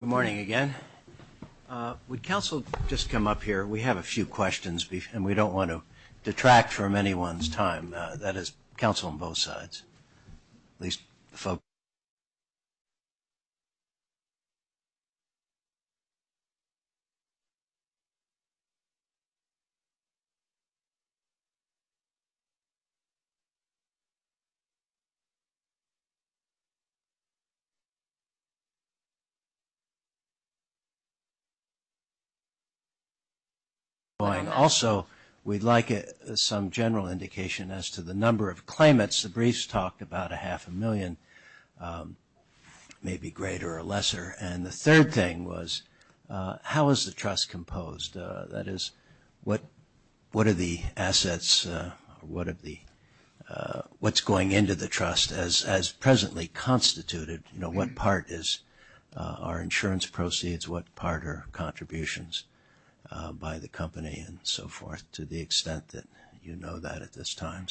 Good morning again. Would counsel just come up here? We have a few questions and we don't want to detract from anyone's time. That is counsel on both sides. Also, we'd like some general indication as to the number of claimants. The briefs talked about a half a million, maybe greater or lesser. And the third thing was how is the trust composed? That is what are the assets, what's going into the trust as presently constituted? You know, what part is our insurance proceeds? What part are contributions by the company and so forth to the extent that you know that at this time?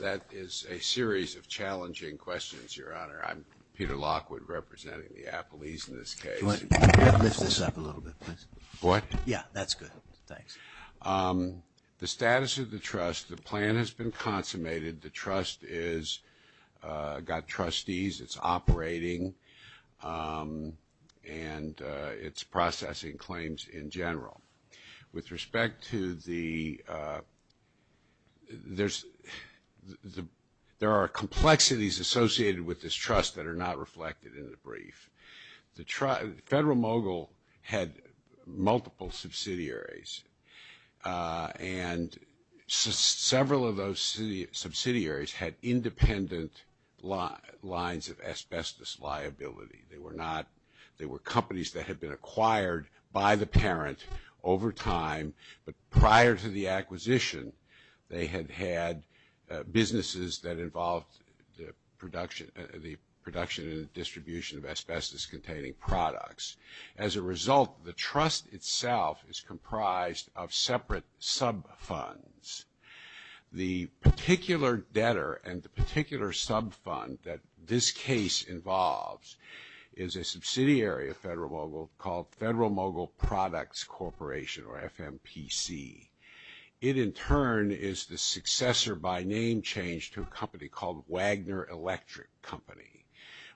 That is a series of challenging questions, Your Honor. I'm Peter Lockwood representing the affilies in this case. Could you lift this up a little bit, please? What? Yeah, that's good. Thanks. The status of the trust, the plan has been consummated. The trust has got trustees, it's operating, and it's processing claims in general. With respect to the – there are complexities associated with this trust that are not reflected in the brief. The federal mogul had multiple subsidiaries, and several of those subsidiaries had independent lines of asbestos liability. They were not – they were companies that had been acquired by the parent over time. But prior to the acquisition, they had had businesses that involved the production and the distribution of asbestos-containing products. As a result, the trust itself is comprised of separate sub funds. The particular debtor and the particular sub fund that this case involves is a subsidiary of federal mogul called Federal Mogul Products Corporation, or FMPC. It, in turn, is the successor by name change to a company called Wagner Electric Company.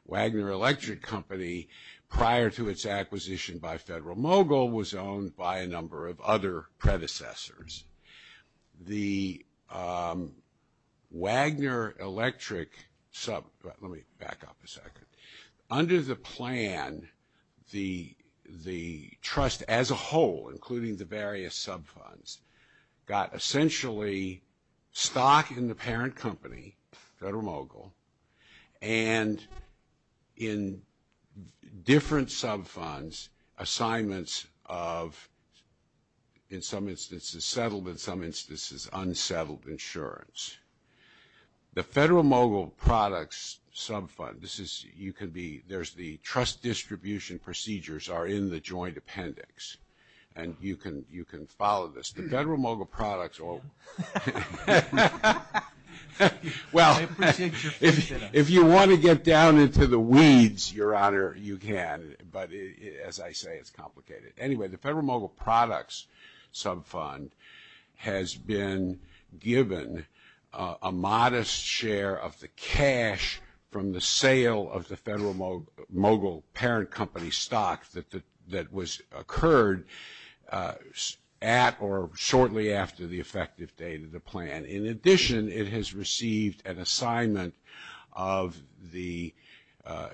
Wagner Electric Company, prior to its acquisition by federal mogul, was owned by a number of other predecessors. The Wagner Electric sub – let me back up a second. Under the plan, the trust as a whole, including the various sub funds, got essentially stock in the parent company, federal mogul, and in different sub funds, assignments of, in some instances, settlement, in some instances, unsettled insurance. The federal mogul products sub fund, this is – you could be – there's the trust distribution procedures are in the joint appendix, and you can follow this. The federal mogul products – well, if you want to get down into the weeds, Your Honor, you can, but as I say, it's complicated. Anyway, the federal mogul products sub fund has been given a modest share of the cash from the sale of the federal mogul parent company stock that was occurred at or shortly after the effective date of the plan. In addition, it has received an assignment of the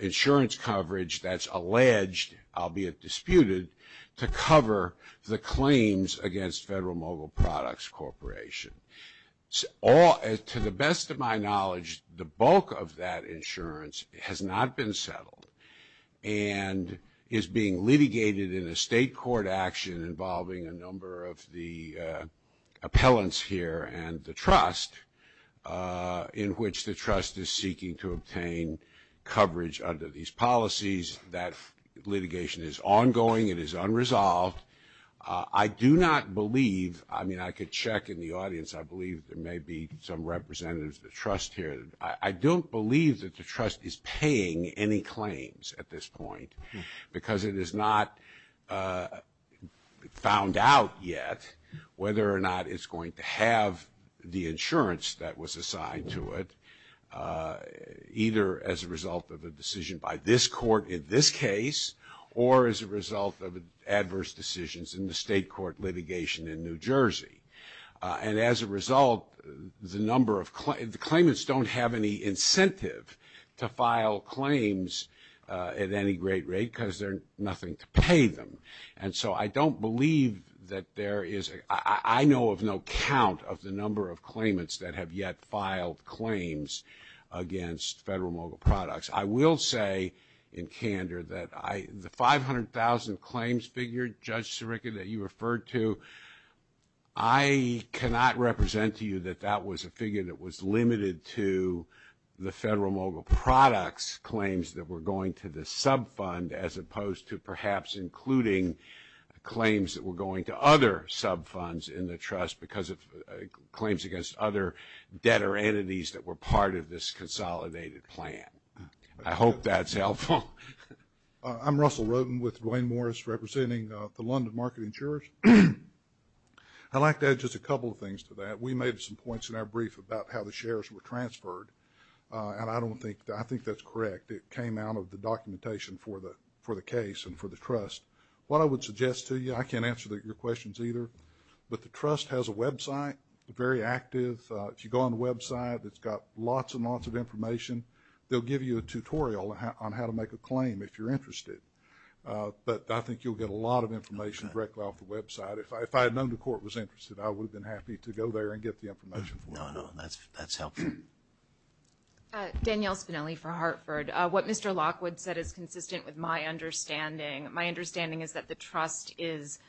insurance coverage that's alleged, albeit disputed, to cover the claims against federal mogul products corporation. To the best of my knowledge, the bulk of that insurance has not been settled and is being litigated in a state court action involving a number of the appellants here and the trust in which the trust is seeking to obtain coverage under these policies. That litigation is ongoing. It is unresolved. I do not believe – I mean, I could check in the audience. I believe there may be some representatives of the trust here. I don't believe that the trust is paying any claims at this point because it is not found out yet whether or not it's going to have the insurance that was assigned to it, either as a result of a decision by this court in this case or as a result of adverse decisions in the state court litigation in New Jersey. And as a result, the number of – the claimants don't have any incentive to file claims at any great rate because there's nothing to pay them. And so I don't believe that there is – I know of no count of the number of claimants that have yet filed claims against federal mogul products. I will say in candor that the 500,000 claims figure, Judge Sirica, that you referred to, I cannot represent to you that that was a figure that was limited to the federal mogul products claims that were going to the sub fund as opposed to perhaps including claims that were going to other sub funds in the trust because of claims against other debtor entities that were part of this consolidated plan. I hope that's helpful. I'm Russell Roden with Duane Morris representing the London Market Insurance. I'd like to add just a couple of things to that. We made some points in our brief about how the shares were transferred, and I don't think – I think that's correct. It came out of the documentation for the case and for the trust. What I would suggest to you – I can't answer your questions either, but the trust has a website, very active. If you go on the website, it's got lots and lots of information. They'll give you a tutorial on how to make a claim if you're interested, but I think you'll get a lot of information directly off the website. If I had known the court was interested, I would have been happy to go there and get the information. No, no, that's helpful. Danielle Spinelli for Hartford. What Mr. Lockwood said is consistent with my understanding. My understanding is that the trust is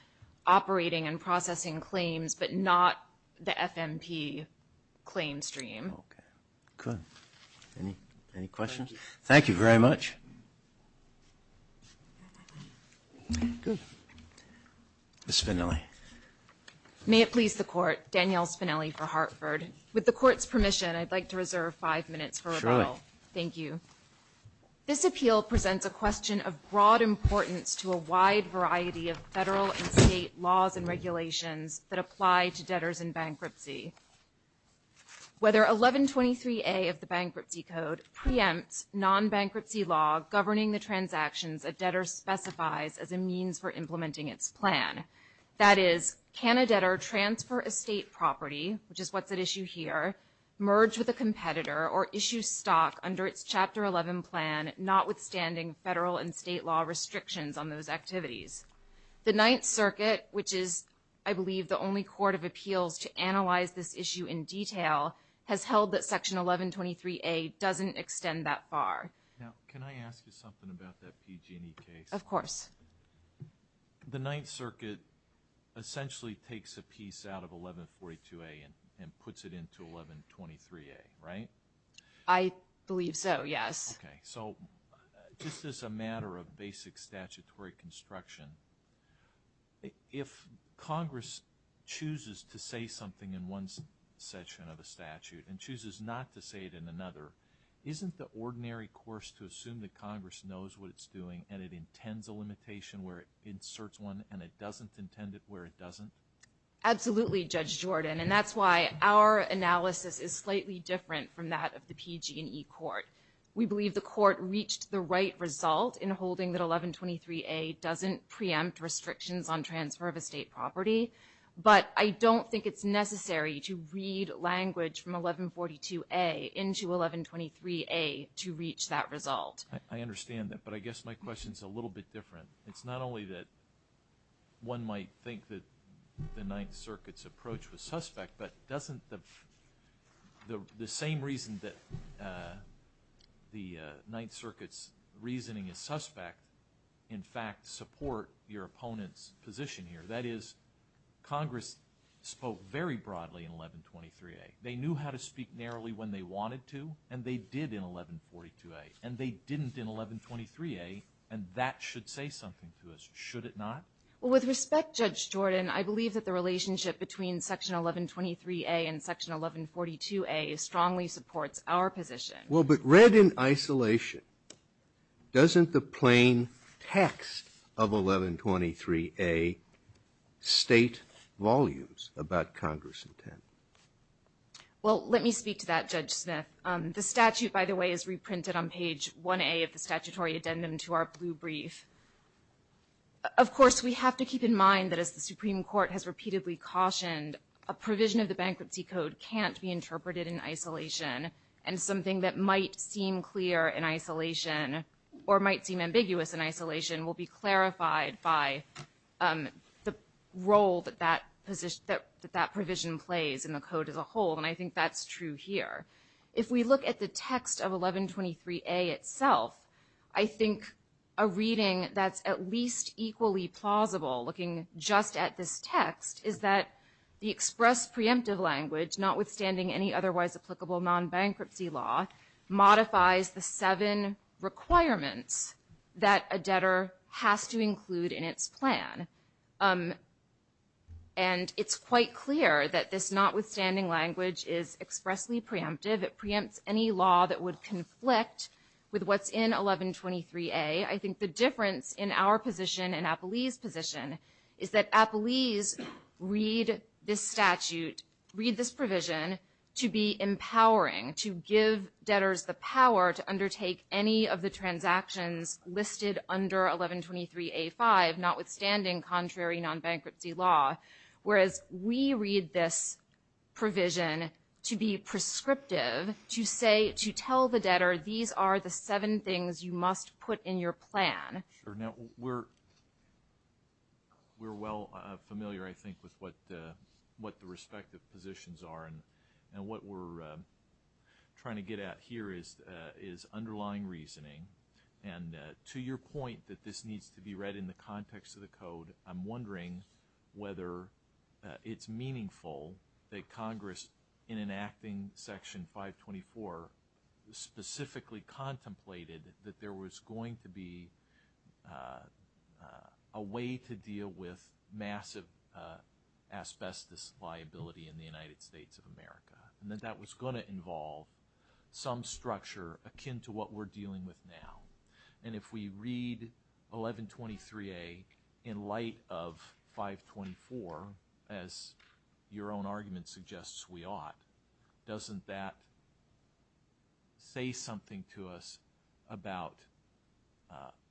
operating and processing claims but not the FMP claim stream. Okay, good. Any questions? Thank you. Thank you very much. Ms. Spinelli. May it please the Court, Danielle Spinelli for Hartford. With the Court's permission, I'd like to reserve five minutes for rebuttal. Sure. Thank you. This appeal presents a question of broad importance to a wide variety of federal and state laws and regulations that apply to debtors in bankruptcy. Whether 1123A of the Bankruptcy Code preempts non-bankruptcy law governing the transactions a debtor specifies as a means for implementing its plan. That is, can a debtor transfer a state property, which is what's at issue here, merge with a competitor or issue stock under Chapter 11 Plan notwithstanding federal and state law restrictions on those activities? The Ninth Circuit, which is, I believe, the only court of appeals to analyze this issue in detail, has held that Section 1123A doesn't extend that far. Now, can I ask you something about that PG&E case? Of course. The Ninth Circuit essentially takes a piece out of 1142A and puts it into 1123A, right? I believe so, yes. Okay. So this is a matter of basic statutory construction. If Congress chooses to say something in one section of a statute and chooses not to say it in another, isn't the ordinary course to assume that Congress knows what it's doing and it intends a limitation where it inserts one and it doesn't intend it where it doesn't? Absolutely, Judge Jordan, and that's why our analysis is slightly different from that of the PG&E court. We believe the court reached the right result in holding that 1123A doesn't preempt restrictions on transfer of estate property, but I don't think it's necessary to read language from 1142A into 1123A to reach that result. I understand that, but I guess my question is a little bit different. It's not only that one might think that the Ninth Circuit's approach was suspect, but doesn't the same reason that the Ninth Circuit's reasoning is suspect in fact support your opponent's position here? That is, Congress spoke very broadly in 1123A. They knew how to speak narrowly when they wanted to, and they did in 1142A. And they didn't in 1123A, and that should say something to us, should it not? Well, with respect, Judge Jordan, I believe that the relationship between Section 1123A and Section 1142A strongly supports our position. Well, but read in isolation, doesn't the plain text of 1123A state volumes about Congress's intent? Well, let me speak to that, Judge Smith. The statute, by the way, is reprinted on page 1A of the statutory addendum to our blue brief. Of course, we have to keep in mind that as the Supreme Court has repeatedly cautioned, a provision of the Bankruptcy Code can't be interpreted in isolation, and something that might seem clear in isolation or might seem ambiguous in isolation will be clarified by the role that that provision plays in the Code as a whole, and I think that's true here. If we look at the text of 1123A itself, I think a reading that's at least equally plausible looking just at this text is that the express preemptive language, notwithstanding any otherwise applicable non-bankruptcy law, modifies the seven requirements that a debtor has to include in its plan. And it's quite clear that this notwithstanding language is expressly preemptive. It preempts any law that would conflict with what's in 1123A. I think the difference in our position and APLEI's position is that APLEI's read this statute, read this provision to be empowering, to give debtors the power to undertake any of the transactions listed under 1123A-5, notwithstanding contrary non-bankruptcy law, whereas we read this provision to be prescriptive, to say – to tell the debtor these are the seven things you must put in your plan. Sure. Now, we're well familiar, I think, with what the respective positions are, and what we're trying to get at here is underlying reasoning. And to your point that this needs to be read in the context of the Code, I'm wondering whether it's meaningful that Congress, in enacting Section 524, specifically contemplated that there was going to be a way to deal with massive asbestos liability in the United States of America, and that that was going to involve some structure akin to what we're dealing with now. And if we read 1123A in light of 524, as your own argument suggests we ought, doesn't that say something to us about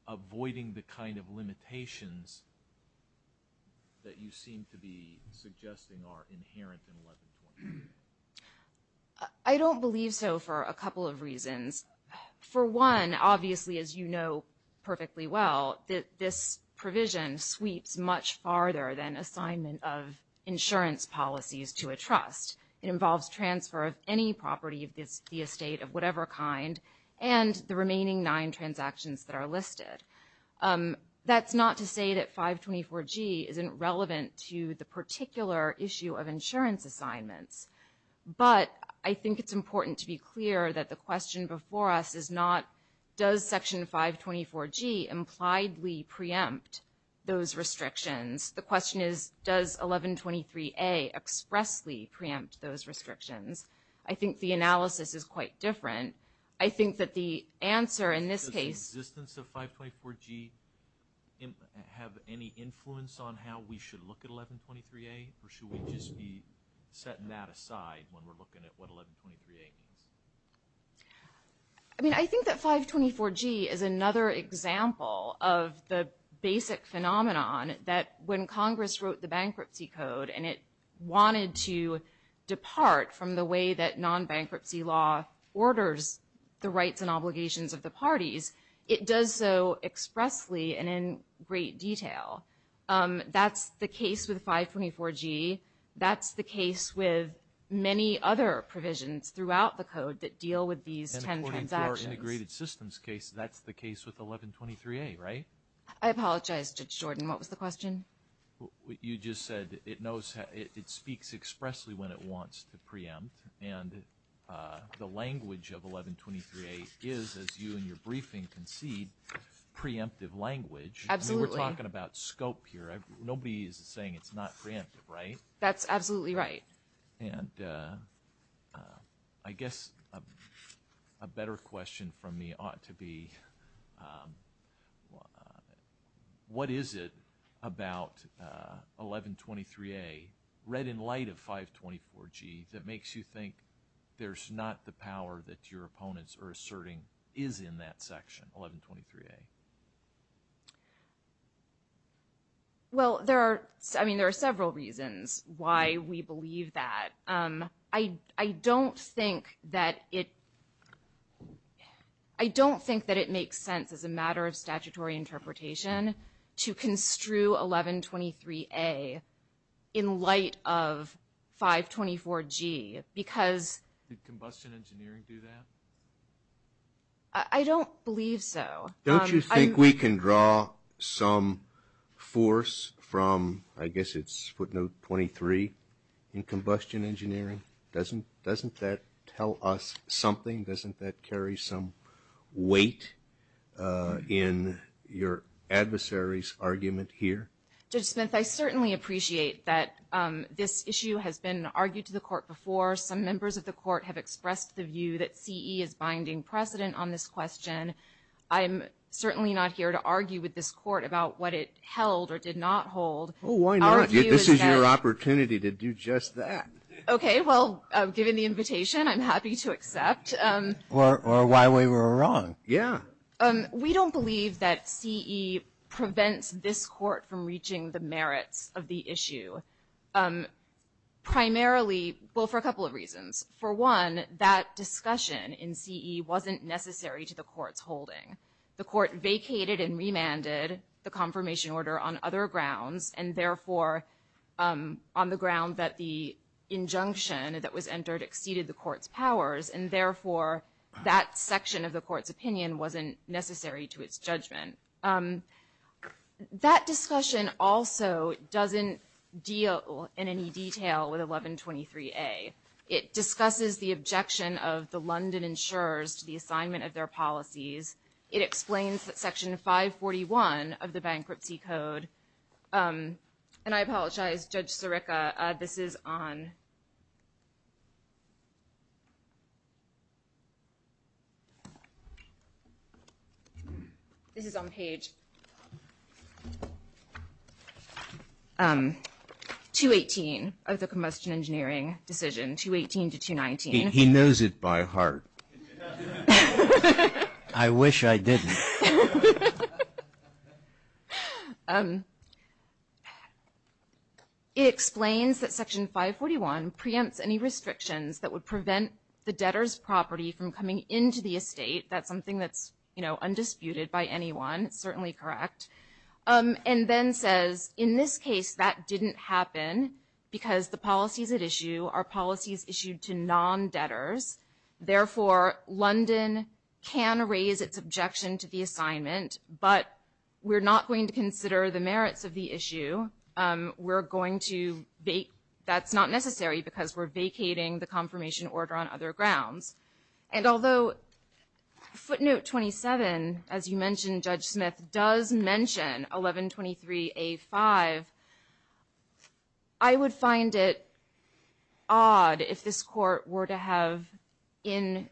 avoiding the kind of limitations that you seem to be suggesting are inherent in 1123A? I don't believe so for a couple of reasons. For one, obviously, as you know perfectly well, this provision sweeps much farther than assignment of insurance policies to a trust. It involves transfer of any property of the estate of whatever kind and the remaining nine transactions that are listed. That's not to say that 524G isn't relevant to the particular issue of insurance assignments. But I think it's important to be clear that the question before us is not, does Section 524G impliedly preempt those restrictions? The question is, does 1123A expressly preempt those restrictions? I think the analysis is quite different. Does the existence of 524G have any influence on how we should look at 1123A, or should we just be setting that aside when we're looking at what 1123A is? I mean, I think that 524G is another example of the basic phenomenon that when Congress wrote the Bankruptcy Code and it wanted to depart from the way that non-bankruptcy law orders the rights and obligations of the parties, it does so expressly and in great detail. That's the case with 524G. That's the case with many other provisions throughout the code that deal with these 10 transactions. In the 524 integrated systems case, that's the case with 1123A, right? I apologize, Judge Jordan. What was the question? You just said it speaks expressly when it wants to preempt. And the language of 1123A is, as you and your briefing concede, preemptive language. Absolutely. We're talking about scope here. Nobody is saying it's not preemptive, right? That's absolutely right. And I guess a better question from me ought to be what is it about 1123A, read in light of 524G, that makes you think there's not the power that your opponents are asserting is in that section, 1123A? Well, there are several reasons why we believe that. I don't think that it makes sense as a matter of statutory interpretation to construe 1123A in light of 524G. Did combustion engineering do that? I don't believe so. Don't you think we can draw some force from, I guess it's footnote 23, in combustion engineering? Doesn't that tell us something? Doesn't that carry some weight in your adversary's argument here? Judge Smith, I certainly appreciate that this issue has been argued to the court before. Some members of the court have expressed the view that CE is binding precedent on this question. I'm certainly not here to argue with this court about what it held or did not hold. Oh, why not? This is your opportunity to do just that. Okay. Well, given the invitation, I'm happy to accept. Or why we were wrong. Yeah. We don't believe that CE prevents this court from reaching the merit of the issue. Primarily, well, for a couple of reasons. For one, that discussion in CE wasn't necessary to the court's holding. The court vacated and remanded the confirmation order on other grounds, and therefore on the grounds that the injunction that was entered exceeded the court's powers, and therefore that section of the court's opinion wasn't necessary to its judgment. That discussion also doesn't deal in any detail with 1123A. It discusses the objection of the London insurers to the assignment of their policies. It explains that Section 541 of the Bankruptcy Code, and I apologize, Judge Sirica, this is on page 218 of the Combustion Engineering Decision, 218 to 219. He knows it by heart. I wish I didn't. It explains that Section 541 preempts any restrictions that would prevent the debtor's property from coming into the estate. That's something that's, you know, undisputed by anyone, certainly correct. And then says, in this case, that didn't happen because the policies at issue are policies issued to non-debtors. Therefore, London can raise its objection to the assignment, but we're not going to consider the merits of the issue. We're going to vacate. That's not necessary because we're vacating the confirmation order on other grounds. And although footnote 27, as you mentioned, Judge Smith, does mention 1123A5, I would find it odd if this court were to have, in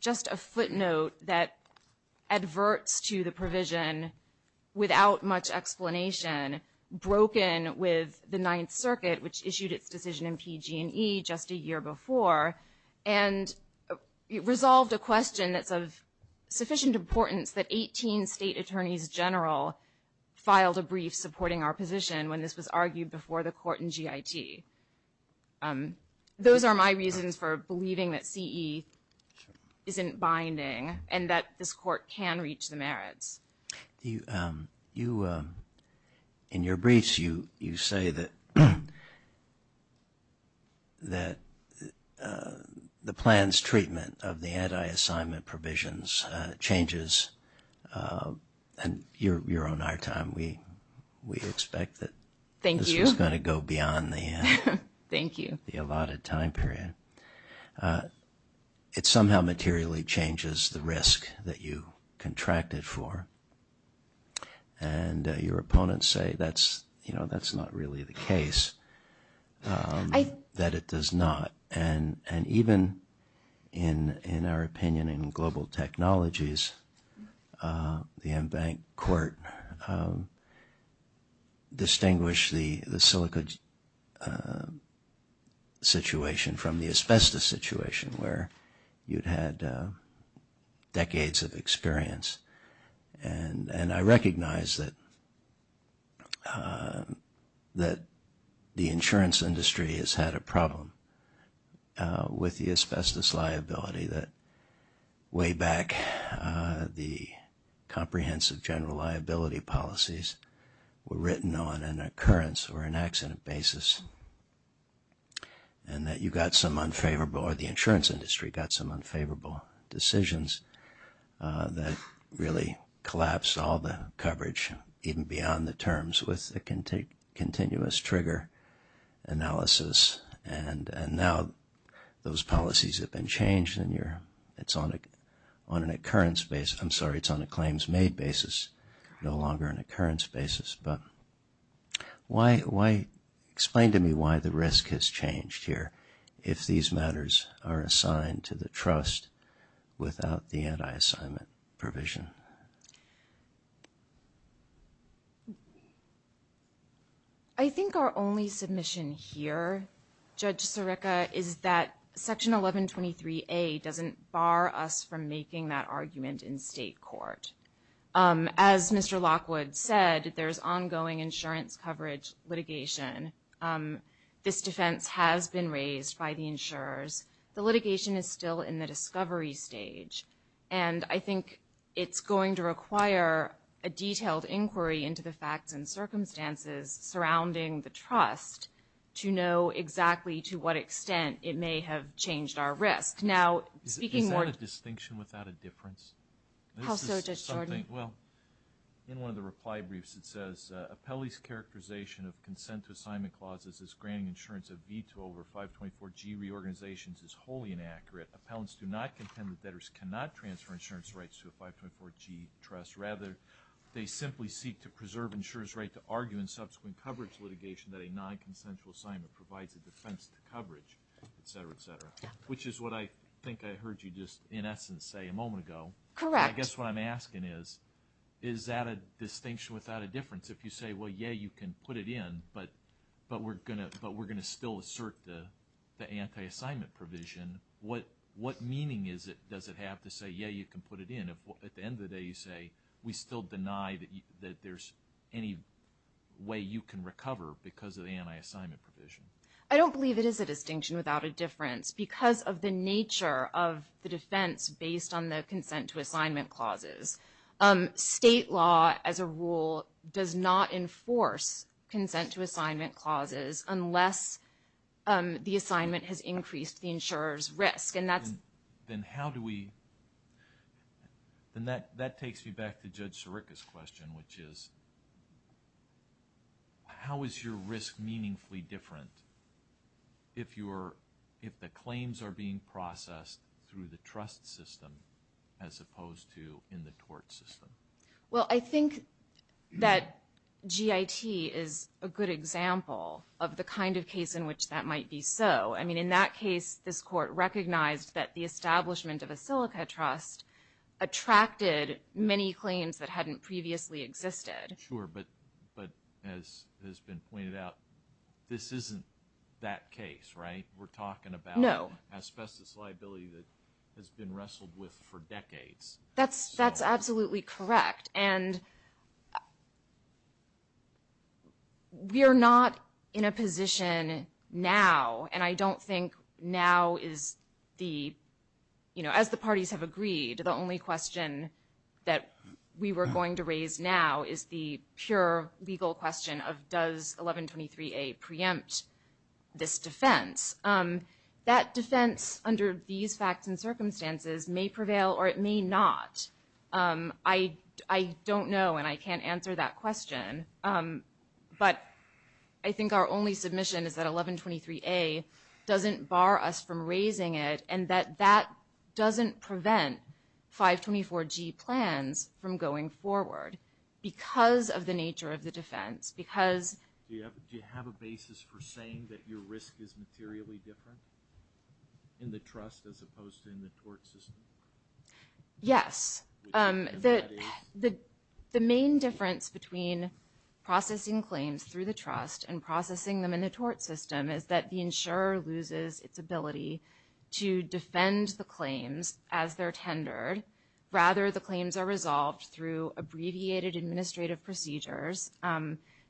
just a footnote that adverts to the provision without much explanation, broken with the Ninth Circuit, which issued its decision in PG&E just a year before. And it resolved a question that's of sufficient importance that 18 state attorneys general filed a brief supporting our position when this was argued before the court in GIT. Those are my reasons for believing that CE isn't binding and that this court can reach the merits. In your briefs, you say that the plan's treatment of the anti-assignment provisions changes. And you're on our time. We expect that this is going to go beyond the allotted time period. It somehow materially changes the risk that you contracted for. And your opponents say that's not really the case, that it does not. And even in our opinion in global technologies, the en banc court distinguished the silica situation from the asbestos situation, where you'd had decades of experience. And I recognize that the insurance industry has had a problem with the asbestos liability, that way back the comprehensive general liability policies were written on an occurrence or an accident basis, and that you got some unfavorable or the insurance industry got some unfavorable decisions that really collapsed all the coverage even beyond the terms with a continuous trigger analysis. And now those policies have been changed and it's on an occurrence basis. I'm sorry, it's on a claims made basis, no longer an occurrence basis. Explain to me why the risk has changed here if these matters are assigned to the trust without the anti-assignment provision. I think our only submission here, Judge Sirica, is that Section 1123A doesn't bar us from making that argument in state court. As Mr. Lockwood said, there's ongoing insurance coverage litigation. This defense has been raised by the insurers. The litigation is still in the discovery stage. And I think it's going to require a detailed inquiry into the facts and circumstances surrounding the trust to know exactly to what extent it may have changed our risk. Is that a distinction without a difference? Well, in one of the reply briefs it says, Appellee's characterization of consent to assignment clauses as granting insurance of veto over 524G reorganizations is wholly inaccurate. Appellants do not contend that debtors cannot transfer insurance rights to a 524G trust. Rather, they simply seek to preserve insurer's right to argue in subsequent coverage litigation that a non-consensual assignment provides a defense to coverage, etc., etc. Which is what I think I heard you just, in essence, say a moment ago. Correct. I guess what I'm asking is, is that a distinction without a difference? If you say, well, yeah, you can put it in, but we're going to still assert the anti-assignment provision, what meaning does it have to say, yeah, you can put it in? If at the end of the day you say, we still deny that there's any way you can recover because of the anti-assignment provision. I don't believe it is a distinction without a difference because of the nature of the defense based on the consent to assignment clauses. State law, as a rule, does not enforce consent to assignment clauses unless the assignment has increased the insurer's risk. Then that takes me back to Judge Sirica's question, which is, how is your risk meaningfully different if the claims are being processed through the trust system as opposed to in the tort system? Well, I think that GIT is a good example of the kind of case in which that might be so. In that case, this court recognized that the establishment of a Silica trust attracted many claims that hadn't previously existed. Sure, but as has been pointed out, this isn't that case, right? We're talking about asbestos liability that has been wrestled with for decades. That's absolutely correct, and we're not in a position now, and I don't think now is the, you know, as the parties have agreed, the only question that we were going to raise now is the pure legal question of does 1123A preempt this defense. That defense under these facts and circumstances may prevail or it may not. I don't know, and I can't answer that question, but I think our only submission is that 1123A doesn't bar us from raising it, and that that doesn't prevent 524G plans from going forward because of the nature of the defense. Do you have a basis for saying that your risk is materially different in the trust as opposed to in the tort system? Yes. The main difference between processing claims through the trust and processing them in the tort system is that the insurer loses its ability to defend the claims as they're tendered. Rather, the claims are resolved through abbreviated administrative procedures.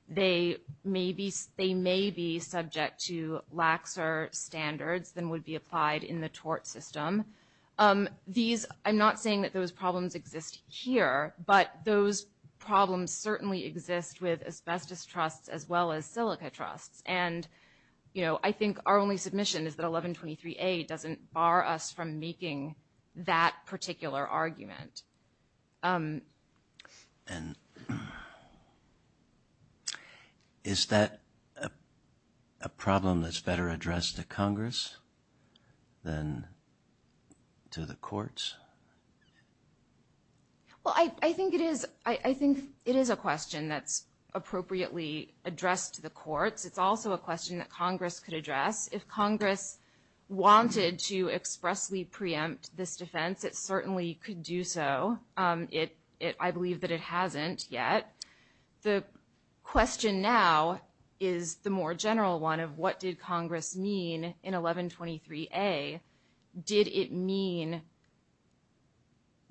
They may be subject to laxer standards than would be applied in the tort system. I'm not saying that those problems exist here, but those problems certainly exist with asbestos trusts as well as silica trusts, and I think our only submission is that 1123A doesn't bar us from making that particular argument. Is that a problem that's better addressed to Congress than to the courts? Well, I think it is a question that's appropriately addressed to the courts. It's also a question that Congress could address. If Congress wanted to expressly preempt this defense, it certainly could do so. I believe that it hasn't yet. The question now is the more general one of what did Congress mean in 1123A? Did it mean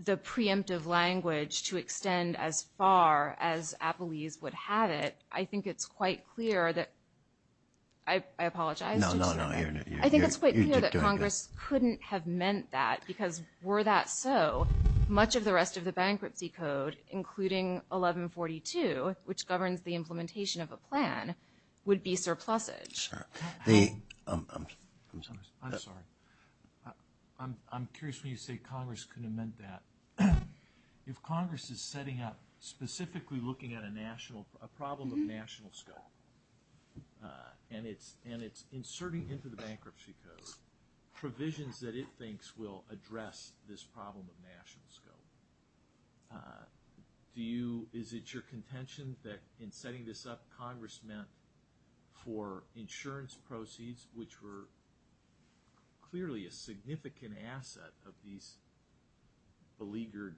the preemptive language to extend as far as Applebee's would have it? I think it's quite clear that Congress couldn't have meant that because were that so, much of the rest of the bankruptcy code, including 1142, which governs the implementation of a plan, would be surplused. I'm sorry. I'm curious when you say Congress couldn't have meant that. If Congress is setting up, specifically looking at a problem of national scale, and it's inserting into the bankruptcy code provisions that it thinks will address this problem of national scale, is it your contention that in setting this up, Congress meant for insurance proceeds, which were clearly a significant asset of these beleaguered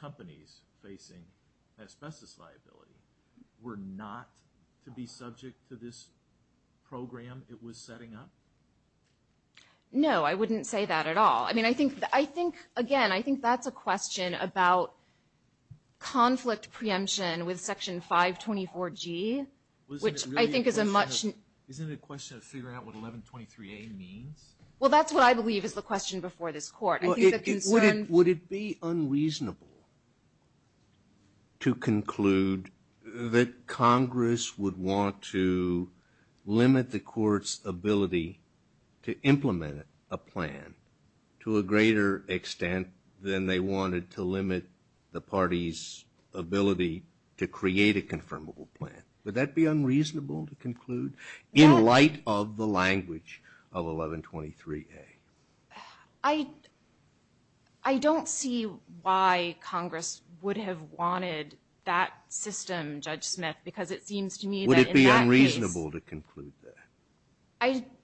companies facing asbestos liability, were not to be subject to this program it was setting up? No, I wouldn't say that at all. Again, I think that's a question about conflict preemption with Section 524G, which I think is a much... Isn't it a question to figure out what 1123A means? Well, that's what I believe is the question before this court. Would it be unreasonable to conclude that Congress would want to limit the court's ability to implement a plan to a greater extent than they wanted to limit the party's ability to create a confirmable plan? Would that be unreasonable to conclude in light of the language of 1123A? I don't see why Congress would have wanted that system, Judge Smith, because it seems to me that... Would it be unreasonable to conclude that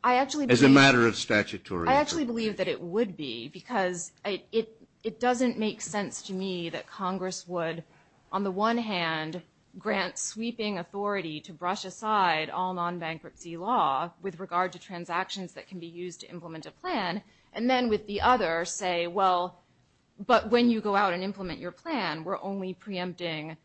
as a matter of statutory... I actually believe that it would be because it doesn't make sense to me that Congress would, on the one hand, grant sweeping authority to brush aside all non-bankruptcy law with regard to transactions that can be used to implement a plan, and then with the other say, well, but when you go out and implement your plan, we're only preempting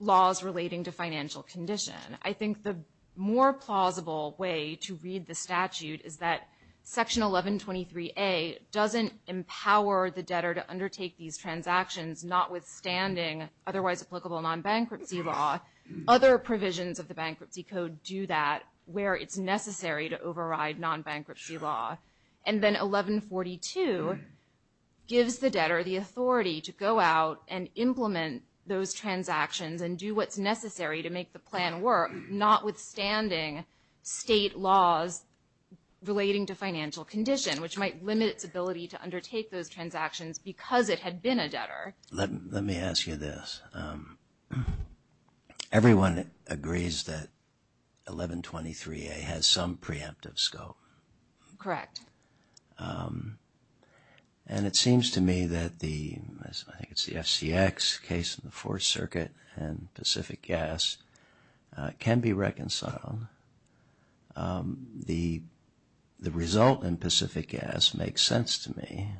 laws relating to financial condition. I think the more plausible way to read the statute is that Section 1123A doesn't empower the debtor to undertake these transactions notwithstanding otherwise applicable non-bankruptcy law. Other provisions of the Bankruptcy Code do that where it's necessary to override non-bankruptcy law. And then 1142 gives the debtor the authority to go out and implement those transactions and do what's necessary to make the plan work notwithstanding state laws relating to financial condition, which might limit its ability to undertake those transactions because it had been a debtor. Let me ask you this. Everyone agrees that 1123A has some preemptive scope. Correct. And it seems to me that the FCX case in the Fourth Circuit and Pacific Gas can be reconciled. The result in Pacific Gas makes sense to me,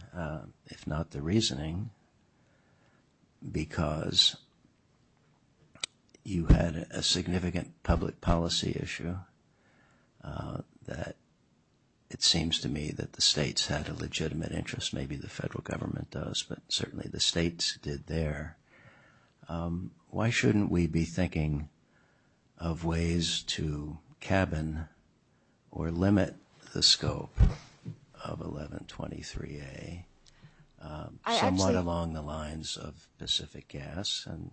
if not the reasoning, because you had a significant public policy issue that it seems to me that the states had a legitimate interest. Maybe the federal government does, but certainly the states did there. Why shouldn't we be thinking of ways to cabin or limit the scope of 1123A? Somewhat along the lines of Pacific Gas and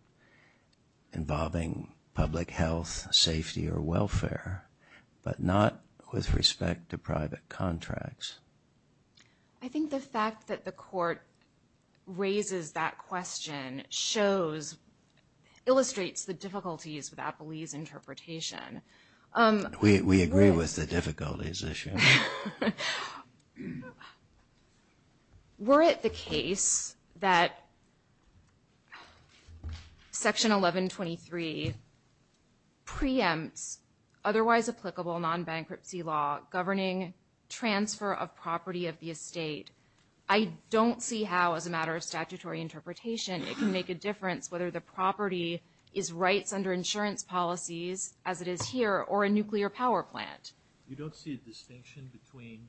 involving public health, safety, or welfare, but not with respect to private contracts. I think the fact that the Court raises that question illustrates the difficulties with Apolli's interpretation. We agree with the difficulties issue. Were it the case that Section 1123 preempts otherwise applicable non-bankruptcy law governing transfer of property of the estate, I don't see how, as a matter of statutory interpretation, it can make a difference whether the property is rights under insurance policies, as it is here, or a nuclear power plant. You don't see a distinction between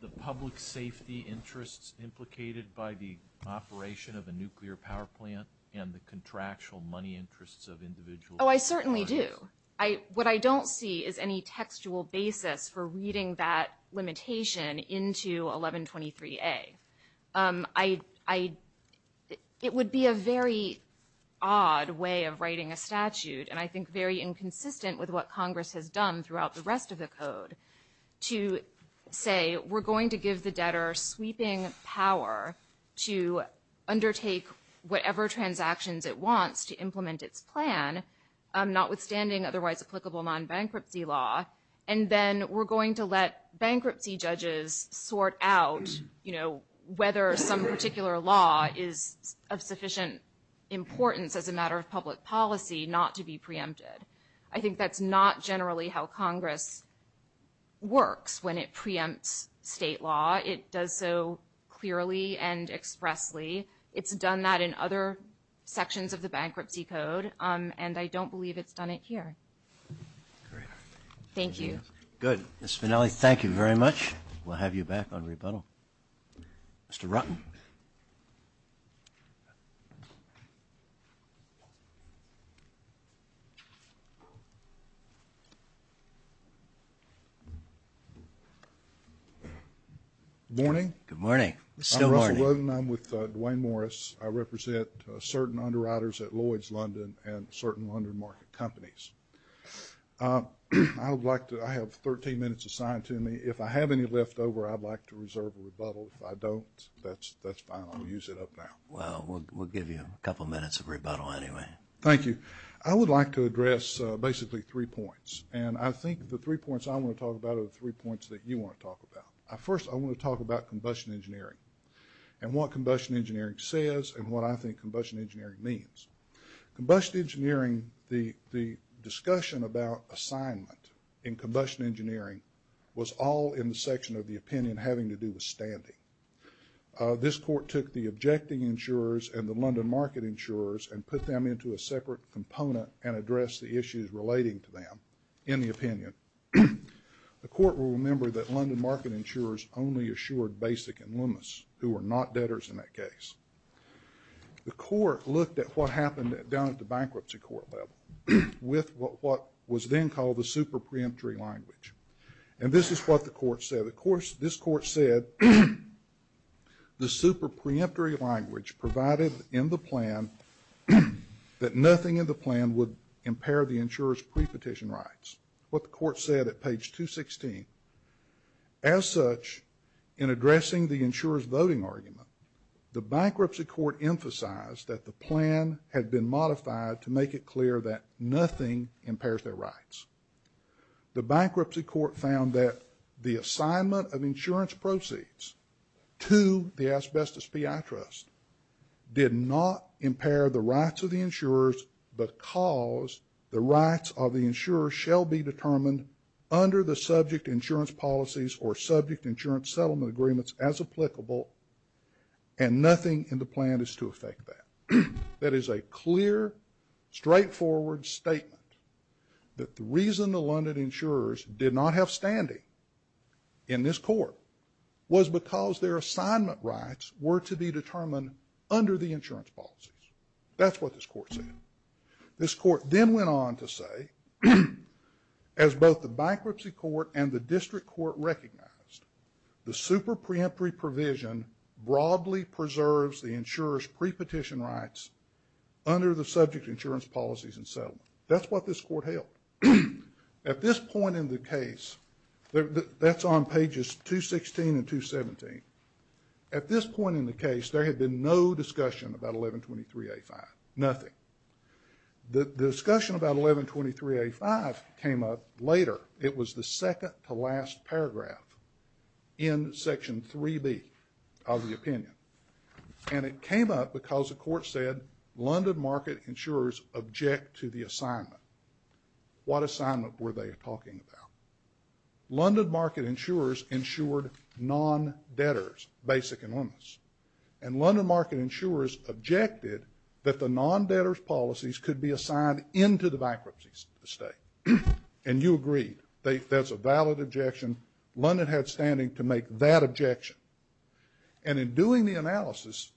the public safety interests implicated by the operation of a nuclear power plant and the contractual money interests of individuals? Oh, I certainly do. What I don't see is any textual basis for reading that limitation into 1123A. It would be a very odd way of writing a statute, and I think very inconsistent with what Congress has done throughout the rest of the Code, to say we're going to give the debtor sweeping power to undertake whatever transactions it wants to implement its plan, notwithstanding otherwise applicable non-bankruptcy law, and then we're going to let bankruptcy judges sort out whether some particular law is of sufficient importance as a matter of public policy not to be preempted. I think that's not generally how Congress works when it preempts state law. It does so clearly and expressly. It's done that in other sections of the Bankruptcy Code, and I don't believe it's done it here. Thank you. Ms. Spinelli, thank you very much. We'll have you back on rebuttal. Mr. Rutten. Morning. Good morning. Still morning. I'm Russell Rutten. I'm with Duane Morris. I represent certain underwriters at Lloyd's London and certain London market companies. I have 13 minutes assigned to me. If I have any left over, I'd like to reserve a rebuttal. If I don't, that's fine. I'll use it up now. Well, we'll give you a couple minutes of rebuttal anyway. Thank you. I would like to address basically three points, and I think the three points I want to talk about are the three points that you want to talk about. First, I want to talk about combustion engineering and what combustion engineering says and what I think combustion engineering means. Combustion engineering, the discussion about assignment in combustion engineering was all in the section of the opinion having to do with standing. This court took the objecting insurers and the London market insurers and put them into a separate component and addressed the issues relating to them in the opinion. The court will remember that London market insurers only assured Basic and Loomis, who were not debtors in that case. The court looked at what happened down at the bankruptcy court level with what was then called the super preemptory language. And this is what the court said. Of course, this court said the super preemptory language provided in the plan that nothing in the plan would impair the insurer's prepetition rights. That's what the court said at page 216. As such, in addressing the insurer's voting argument, the bankruptcy court emphasized that the plan had been modified to make it clear that nothing impairs their rights. The bankruptcy court found that the assignment of insurance proceeds to the Asbestos PI Trust did not impair the rights of the insurers because the rights of the insurers shall be determined under the subject insurance policies or subject insurance settlement agreements as applicable and nothing in the plan is to affect that. That is a clear, straightforward statement that the reason the London insurers did not have standing in this court was because their assignment rights were to be determined under the insurance policies. That's what this court said. This court then went on to say, as both the bankruptcy court and the district court recognized, the super preemptory provision broadly preserves the insurer's prepetition rights under the subject insurance policies and settlement. That's what this court held. At this point in the case, that's on pages 216 and 217. At this point in the case, there had been no discussion about 1123A5. Nothing. The discussion about 1123A5 came up later. It was the second-to-last paragraph in Section 3B of the opinion. And it came up because the court said London market insurers object to the assignment. What assignment were they talking about? London market insurers insured non-debtors, basic and limits. And London market insurers objected that the non-debtors policies could be assigned into the bankruptcy state. And you agreed. That's a valid objection. London had standing to make that objection. And in doing the analysis,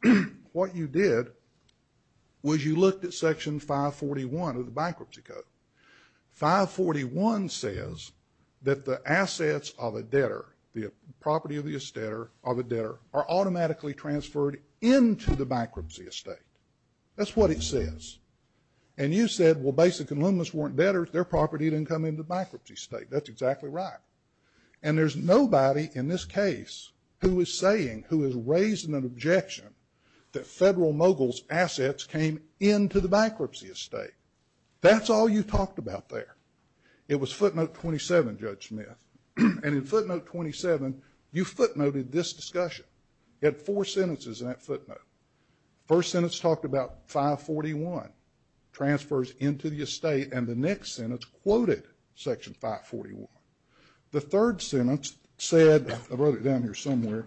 what you did was you looked at Section 541 of the bankruptcy code. 541 says that the assets of a debtor, the property of a debtor, are automatically transferred into the bankruptcy estate. That's what it says. And you said, well, basic and limits weren't debtors. Their property didn't come into the bankruptcy state. That's exactly right. And there's nobody in this case who is saying, who is raising an objection that federal moguls' assets came into the bankruptcy estate. That's all you talked about there. It was footnote 27, Judge Smith. And in footnote 27, you footnoted this discussion. You had four sentences in that footnote. The first sentence talked about 541, transfers into the estate. And the next sentence quoted Section 541. The third sentence said, I wrote it down here somewhere.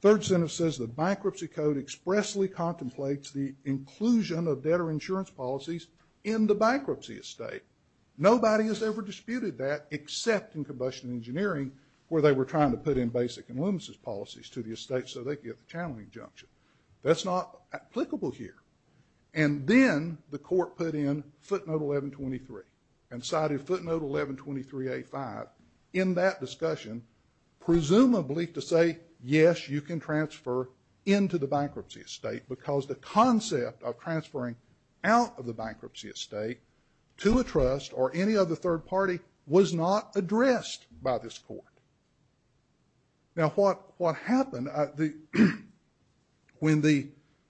The third sentence says the bankruptcy code expressly contemplates the inclusion of debtor insurance policies in the bankruptcy estate. Nobody has ever disputed that except in combustion engineering where they were trying to put in basic and limits as policies to the estate so they could get the channeling junction. That's not applicable here. And then the court put in footnote 1123 and cited footnote 1123A5 in that discussion presumably to say, yes, you can transfer into the bankruptcy estate because the concept of transferring out of the bankruptcy estate to a trust or any other third party was not addressed by this court. Now, what happened when the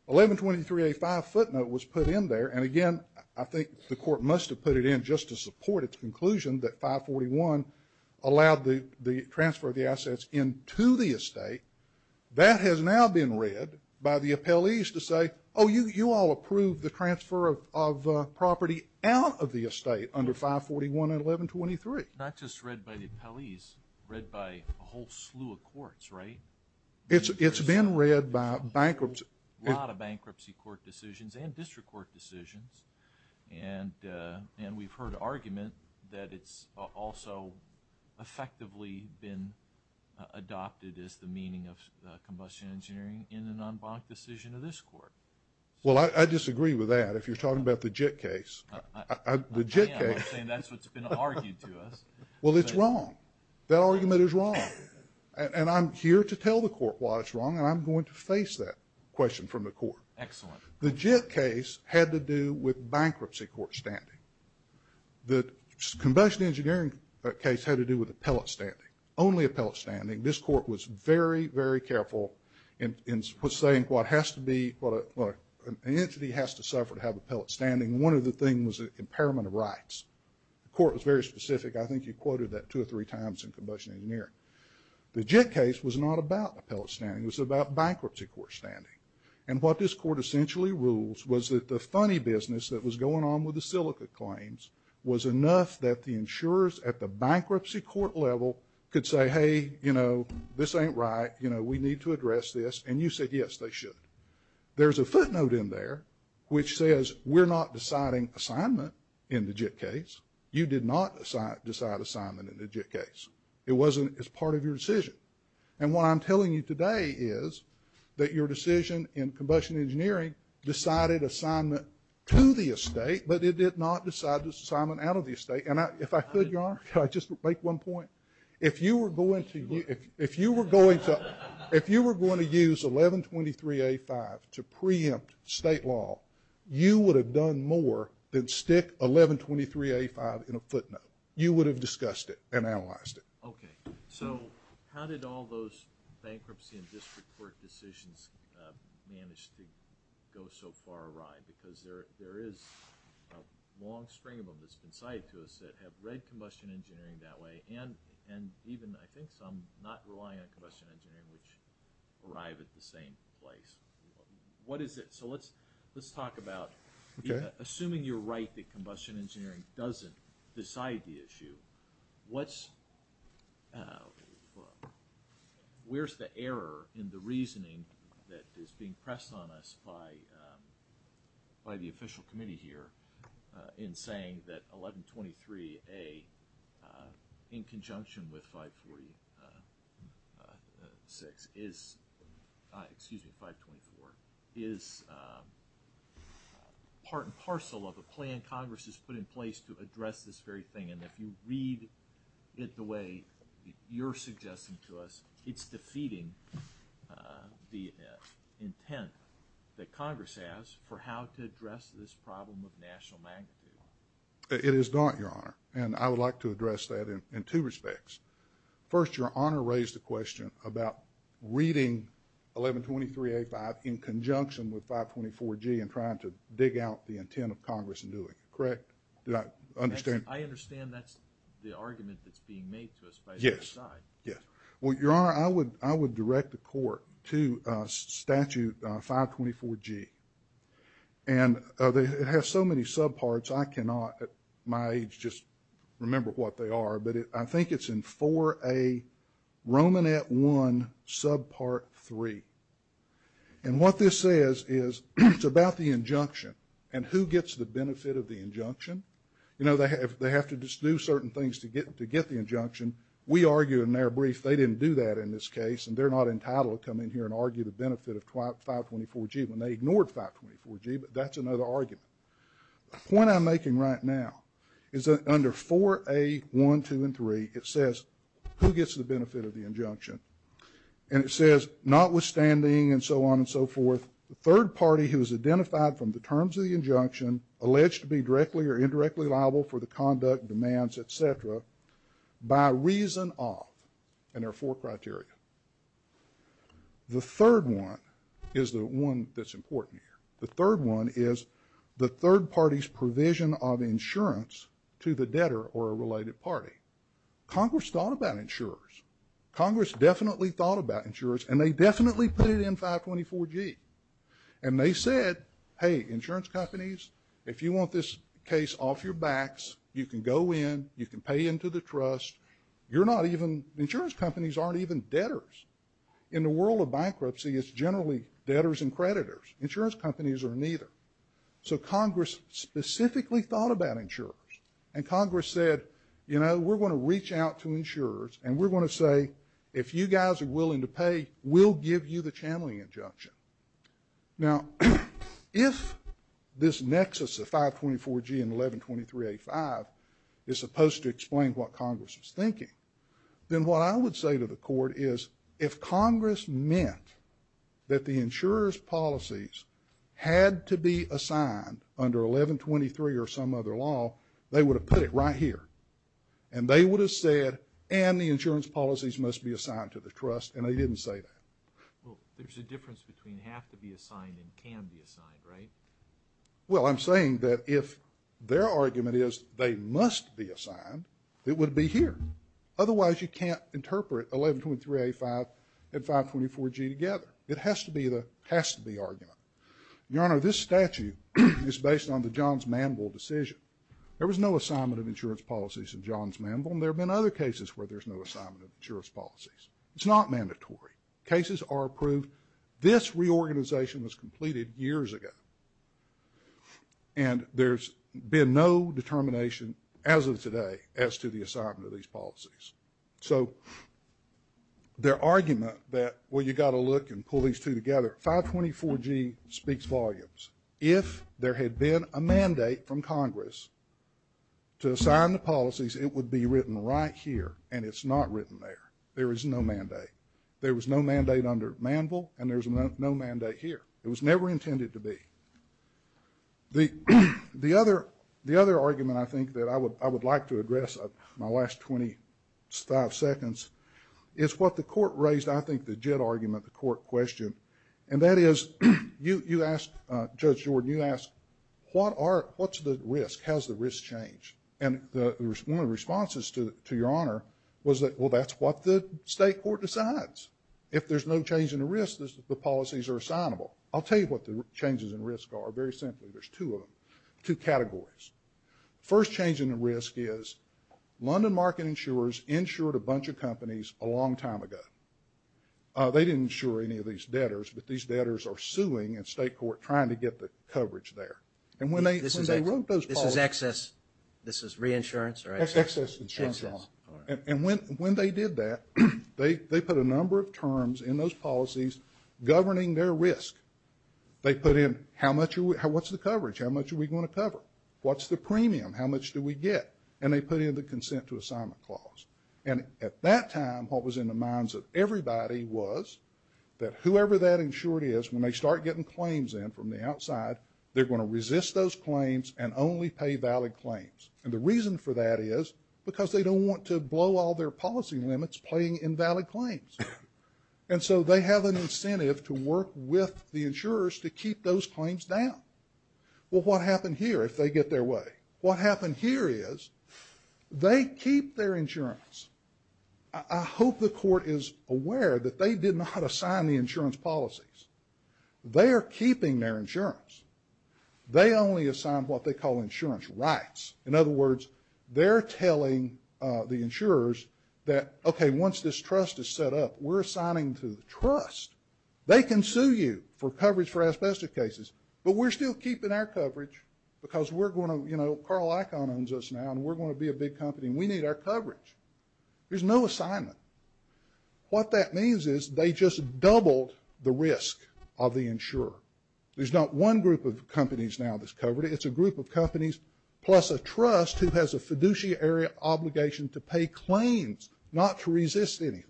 1123A5 footnote was put in there? And, again, I think the court must have put it in just to support its conclusion that 541 allowed the transfer of the assets into the estate. That has now been read by the appellees to say, oh, you all approved the transfer of property out of the estate under 541 and 1123. Not just read by the appellees, read by a whole slew of courts, right? It's been read by bankruptcy. A lot of bankruptcy court decisions and district court decisions. And we've heard argument that it's also effectively been adopted as the meaning of combustion engineering in an en banc decision of this court. Well, I disagree with that if you're talking about the JIT case. I'm saying that's what's been argued to us. Well, it's wrong. That argument is wrong. And I'm here to tell the court why it's wrong, and I'm going to face that question from the court. Excellent. The JIT case had to do with bankruptcy court standing. The combustion engineering case had to do with appellate standing, only appellate standing. This court was very, very careful in saying what has to be – an entity has to suffer to have appellate standing. One of the things is impairment of rights. The court was very specific. I think he quoted that two or three times in combustion engineering. The JIT case was not about appellate standing. It was about bankruptcy court standing. And what this court essentially rules was that the funny business that was going on with the silica claims was enough that the insurers at the bankruptcy court level could say, hey, you know, this ain't right. You know, we need to address this. And you said, yes, they should. There's a footnote in there which says we're not deciding assignment in the JIT case. You did not decide assignment in the JIT case. It wasn't as part of your decision. And what I'm telling you today is that your decision in combustion engineering decided assignment to the estate, but it did not decide this assignment out of the estate. And if I could, Your Honor, can I just make one point? If you were going to use 1123A5 to preempt state law, you would have done more than stick 1123A5 in a footnote. You would have discussed it and analyzed it. Okay. So how did all those bankruptcy and district court decisions manage to go so far awry? Because there is a long string of them that's been tied to us that have read combustion engineering that way and even I think some not relying on combustion engineering which arrive at the same place. What is it? So let's talk about assuming you're right that combustion engineering doesn't decide the issue, where's the error in the reasoning that is being pressed on us by the official committee here in saying that 1123A in conjunction with 546, excuse me, 524, is part and parcel of a plan Congress has put in place to address this very thing and if you read it the way you're suggesting to us, it's defeating the intent that Congress has for how to address this problem of national magnitude. It is not, Your Honor, and I would like to address that in two respects. First, Your Honor raised the question about reading 1123A5 in conjunction with 524G and trying to dig out the intent of Congress in doing it, correct? I understand that's the argument that's being made to us by the other side. Yes. Well, Your Honor, I would direct the court to statute 524G and it has so many subparts I cannot at my age just remember what they are, but I think it's in 4A Romanet 1 subpart 3. And what this says is it's about the injunction and who gets the benefit of the injunction. You know, they have to just do certain things to get the injunction. We argue in their brief they didn't do that in this case and they're not entitled to come in here and argue the benefit of 524G when they ignored 524G, but that's another argument. The point I'm making right now is that under 4A1, 2, and 3, it says who gets the benefit of the injunction and it says notwithstanding and so on and so forth, the third party who is identified from the terms of the injunction alleged to be directly or indirectly liable for the conduct, demands, et cetera, by reason of, and there are four criteria. The third one is the one that's important here. The third one is the third party's provision of insurance to the debtor or a related party. Congress thought about insurers. Congress definitely thought about insurers and they definitely put it in 524G and they said, hey, insurance companies, if you want this case off your backs, you can go in, you can pay into the trust, you're not even, insurance companies aren't even debtors. In the world of bankruptcy, it's generally debtors and creditors. Insurance companies are neither. So Congress specifically thought about insurers and we're going to say if you guys are willing to pay, we'll give you the channeling injunction. Now, if this nexus of 524G and 1123A5 is supposed to explain what Congress is thinking, then what I would say to the court is if Congress meant that the insurer's policies had to be assigned under 1123 or some other law, they would have put it right here and they would have said and the insurance policies must be assigned to the trust and they didn't say that. Well, there's a difference between have to be assigned and can be assigned, right? Well, I'm saying that if their argument is they must be assigned, it would be here. Otherwise, you can't interpret 1123A5 and 524G together. It has to be the argument. Your Honor, this statute is based on the Johns Manville decision. There was no assignment of insurance policies in Johns Manville and there have been other cases where there's no assignment of insurance policies. It's not mandatory. Cases are approved. This reorganization was completed years ago and there's been no determination as of today as to the assignment of these policies. So their argument that, well, you've got to look and pull these two together, 524G speaks volumes. If there had been a mandate from Congress to assign the policies, it would be written right here and it's not written there. There is no mandate. There was no mandate under Manville and there's no mandate here. It was never intended to be. The other argument I think that I would like to address in my last 25 seconds is what the court raised, I think, the jet argument the court questioned. And that is, you asked, Judge Jordan, you asked, what's the risk? How's the risk change? And one of the responses to Your Honor was that, well, that's what the state court decides. If there's no change in the risk, the policies are assignable. I'll tell you what the changes in risk are very simply. There's two of them, two categories. First change in the risk is London market insurers insured a bunch of companies a long time ago. They didn't insure any of these debtors, but these debtors are suing and state court trying to get the coverage there. This is excess, this is reinsurance or excess? Excess insurance. And when they did that, they put a number of terms in those policies governing their risk. They put in, what's the coverage? How much are we going to cover? What's the premium? How much do we get? And they put in the consent to assignment clause. And at that time, what was in the minds of everybody was that whoever that insured is, when they start getting claims in from the outside, they're going to resist those claims and only pay valid claims. And the reason for that is because they don't want to blow all their policy limits paying invalid claims. And so they have an incentive to work with the insurers to keep those claims down. Well, what happened here if they get their way? What happened here is they keep their insurance. I hope the court is aware that they did not assign the insurance policies. They are keeping their insurance. They only assign what they call insurance rights. In other words, they're telling the insurers that, okay, once this trust is set up, we're assigning to the trust. They can sue you for coverage for asbestos cases, but we're still keeping our coverage because Carl Icahn owns us now and we're going to be a big company. We need our coverage. There's no assignment. What that means is they just doubled the risk of the insurer. There's not one group of companies now that's covered. It's a group of companies plus a trust who has a fiduciary obligation to pay claims, not to resist anything.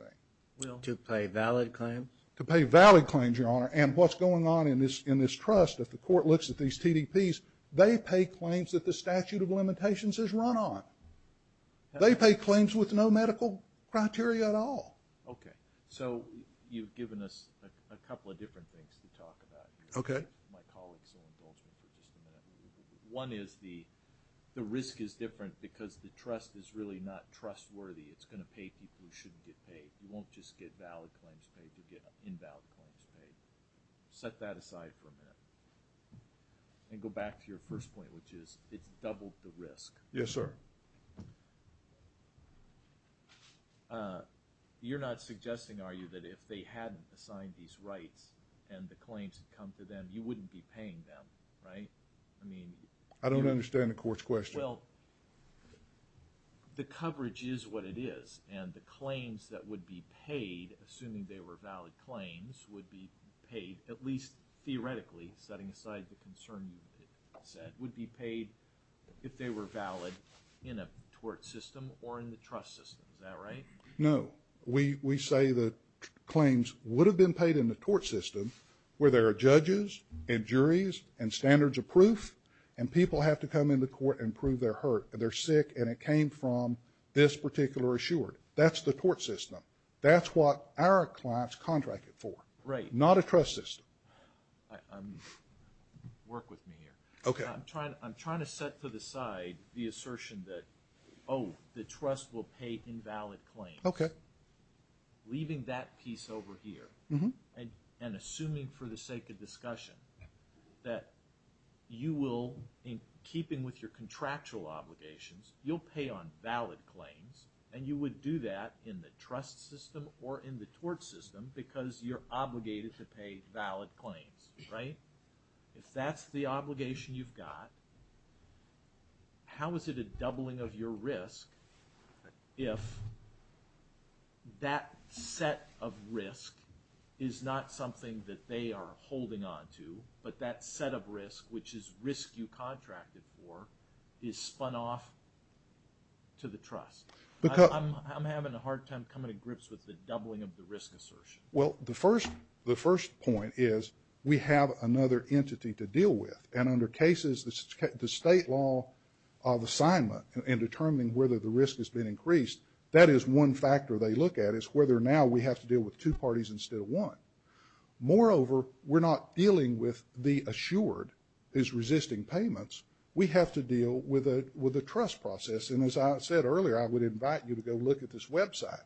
To pay valid claims? To pay valid claims, Your Honor. And what's going on in this trust, if the court looks at these TDPs, they pay claims that the statute of limitations has run on. They pay claims with no medical criteria at all. Okay. So you've given us a couple of different things to talk about. Okay. One is the risk is different because the trust is really not trustworthy. It's going to pay people who shouldn't get paid. You won't just get valid claims paid. You'll get invalid claims paid. Set that aside for a minute. And go back to your first point, which is it doubled the risk. Yes, sir. You're not suggesting, are you, that if they hadn't assigned these right and the claims had come to them, you wouldn't be paying them, right? I don't understand the court's question. Well, the coverage is what it is. And the claims that would be paid, assuming they were valid claims, would be paid, at least theoretically, setting aside the concern you set, would be paid if they were valid in a tort system or in the trust system. Is that right? No. We say that claims would have been paid in the tort system where there are judges and juries and standards of proof, and people have to come into court and prove they're hurt, that they're sick, and it came from this particular insurer. That's the tort system. That's what our clients contract it for. Right. Not a trust system. Work with me here. Okay. I'm trying to set to the side the assertion that, oh, the trust will pay invalid claims. Okay. Leaving that piece over here and assuming for the sake of discussion that you will, in keeping with your contractual obligations, you'll pay on valid claims, and you would do that in the trust system or in the tort system because you're obligated to pay valid claims. Right? If that's the obligation you've got, how is it a doubling of your risk if that set of risk is not something that they are holding on to, but that set of risk, which is risk you contracted for, is spun off to the trust? I'm having a hard time coming to grips with the doubling of the risk assertion. Well, the first point is we have another entity to deal with, and under cases the state law of assignment in determining whether the risk has been increased, that is one factor they look at is whether now we have to deal with two parties instead of one. Moreover, we're not dealing with the assured is resisting payments. We have to deal with a trust process, and as I said earlier, I would invite you to go look at this website.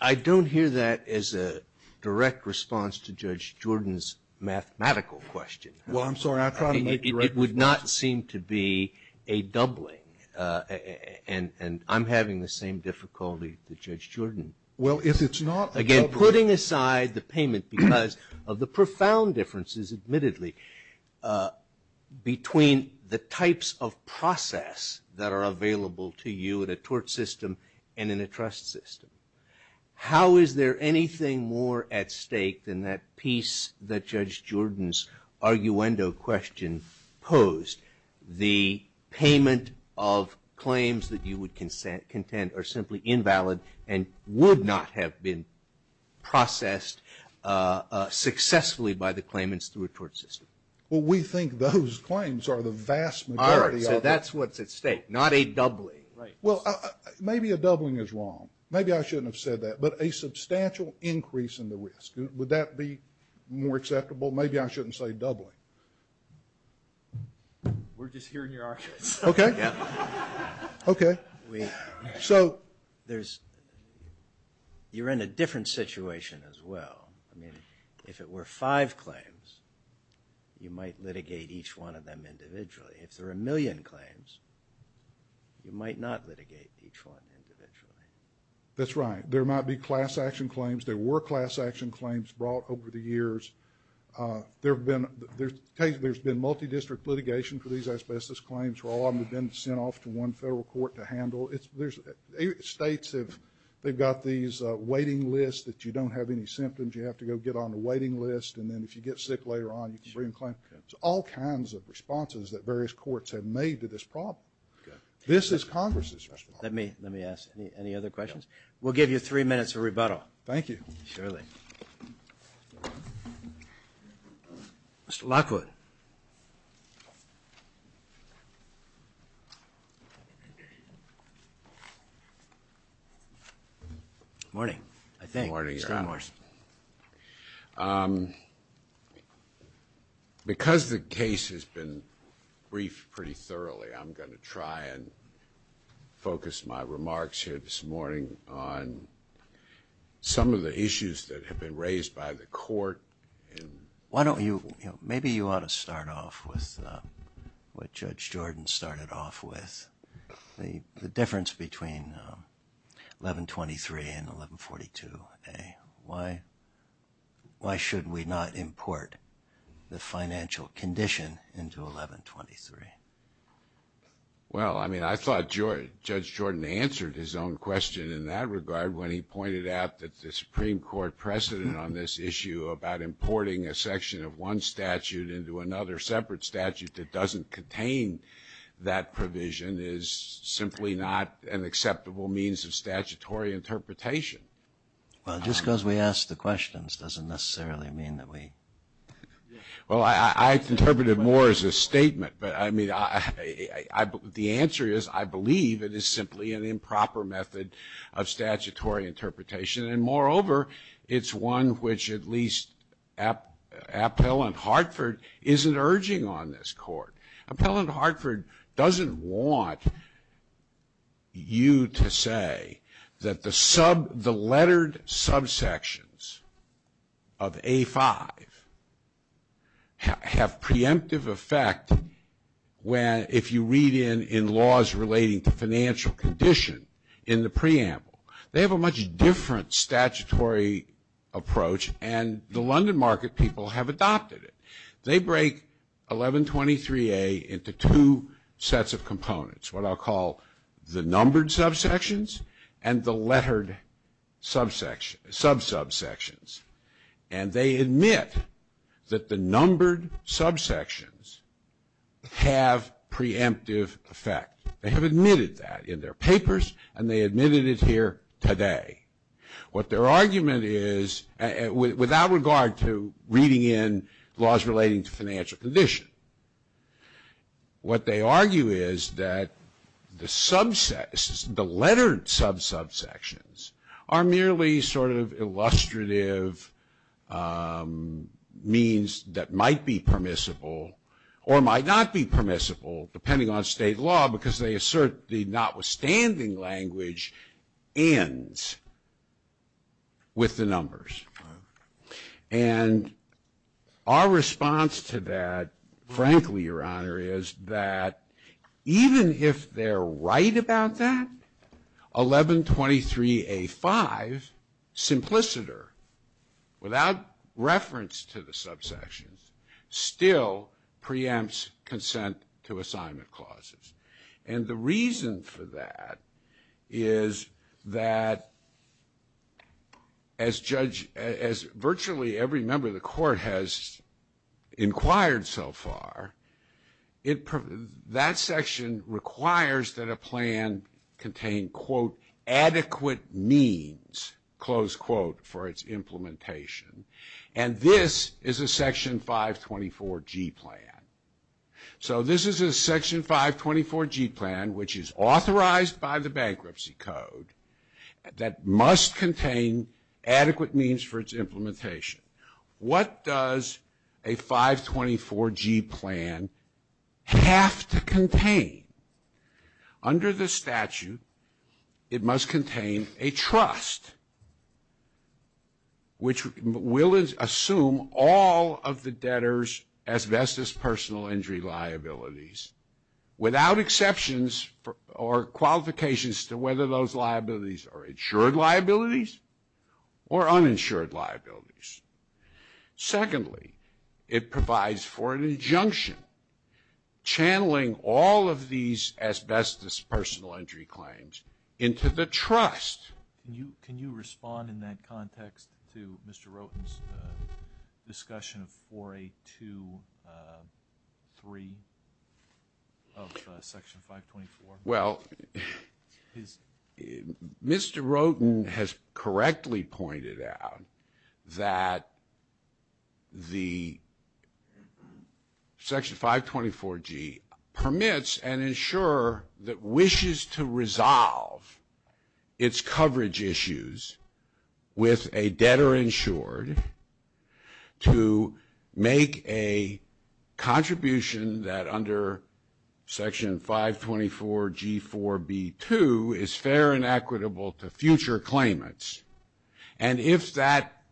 I don't hear that as a direct response to Judge Jordan's mathematical question. Well, I'm sorry. It would not seem to be a doubling, and I'm having the same difficulty as Judge Jordan. Again, putting aside the payment because of the profound differences, admittedly, between the types of process that are available to you in a tort system and in a trust system, how is there anything more at stake than that piece that Judge Jordan's arguendo question posed? The payment of claims that you would contend are simply invalid and would not have been processed successfully by the claimants through a tort system. Well, we think those claims are the vast majority. All right. So that's what's at stake, not a doubling. Well, maybe a doubling is wrong. Maybe I shouldn't have said that, but a substantial increase in the risk. Would that be more acceptable? Maybe I shouldn't say doubling. We're just hearing your arguments. Okay. Okay. So you're in a different situation as well. I mean, if it were five claims, you might litigate each one of them individually. If there are a million claims, you might not litigate each one individually. That's right. There might be class action claims. There were class action claims brought over the years. There's been multidistrict litigation for these asbestos claims where all of them have been sent off to one federal court to handle. States, they've got these waiting lists. If you don't have any symptoms, you have to go get on the waiting list, and then if you get sick later on, you can bring them back. There's all kinds of responses that various courts have made to this problem. This is Congress's responsibility. Let me ask. Any other questions? We'll give you three minutes for rebuttal. Thank you. Surely. Mr. Lockwood. Good morning, I think. Good morning. Because the case has been briefed pretty thoroughly, I'm going to try and focus my remarks here this morning on some of the issues that have been raised by the court. Maybe you ought to start off with what Judge Jordan started off with, the difference between 1123 and 1142A. Why should we not import the financial condition into 1123? Well, I mean, I thought Judge Jordan answered his own question in that regard when he pointed out that the Supreme Court precedent on this issue about importing a section of one statute into another separate statute that doesn't contain that provision is simply not an acceptable means of statutory interpretation. Well, just because we asked the questions doesn't necessarily mean that we ---- Well, I interpreted it more as a statement. But, I mean, the answer is I believe it is simply an improper method of statutory interpretation. And, moreover, it's one which at least Appellant Hartford isn't urging on this court. Appellant Hartford doesn't want you to say that the lettered subsections of A5 have preemptive effect if you read in laws relating to financial condition in the preamble. They have a much different statutory approach and the London market people have adopted it. They break 1123A into two sets of components, what I'll call the numbered subsections and the lettered subsections. And they admit that the numbered subsections have preemptive effect. They have admitted that in their papers and they admitted it here today. What their argument is without regard to reading in laws relating to financial condition, what they argue is that the lettered subsections are merely sort of illustrative means that might be permissible or might not be permissible depending on state law because they assert the notwithstanding language ends with the numbers. And our response to that, frankly, Your Honor, is that even if they're right about that, 1123A5, simpliciter, without reference to the subsections, still preempts consent to assignment clauses. And the reason for that is that as virtually every member of the court has inquired so far, that section requires that a plan contain, quote, adequate means, close quote, for its implementation and this is a Section 524G plan. So this is a Section 524G plan which is authorized by the Bankruptcy Code that must contain adequate means for its implementation. What does a 524G plan have to contain? Under the statute, it must contain a trust which will assume all of the debtors as best as personal injury liabilities without exceptions or qualifications to whether those liabilities are insured liabilities or uninsured liabilities. Secondly, it provides for an injunction channeling all of these as best as personal injury claims into the trust. Can you respond in that context to Mr. Roten's discussion of 4823 of Section 524? Well, Mr. Roten has correctly pointed out that the Section 524G permits and ensure that wishes to resolve its coverage issues with a debtor insured to make a contribution that under Section 524G4B2 is fair and equitable to future claimants. And if that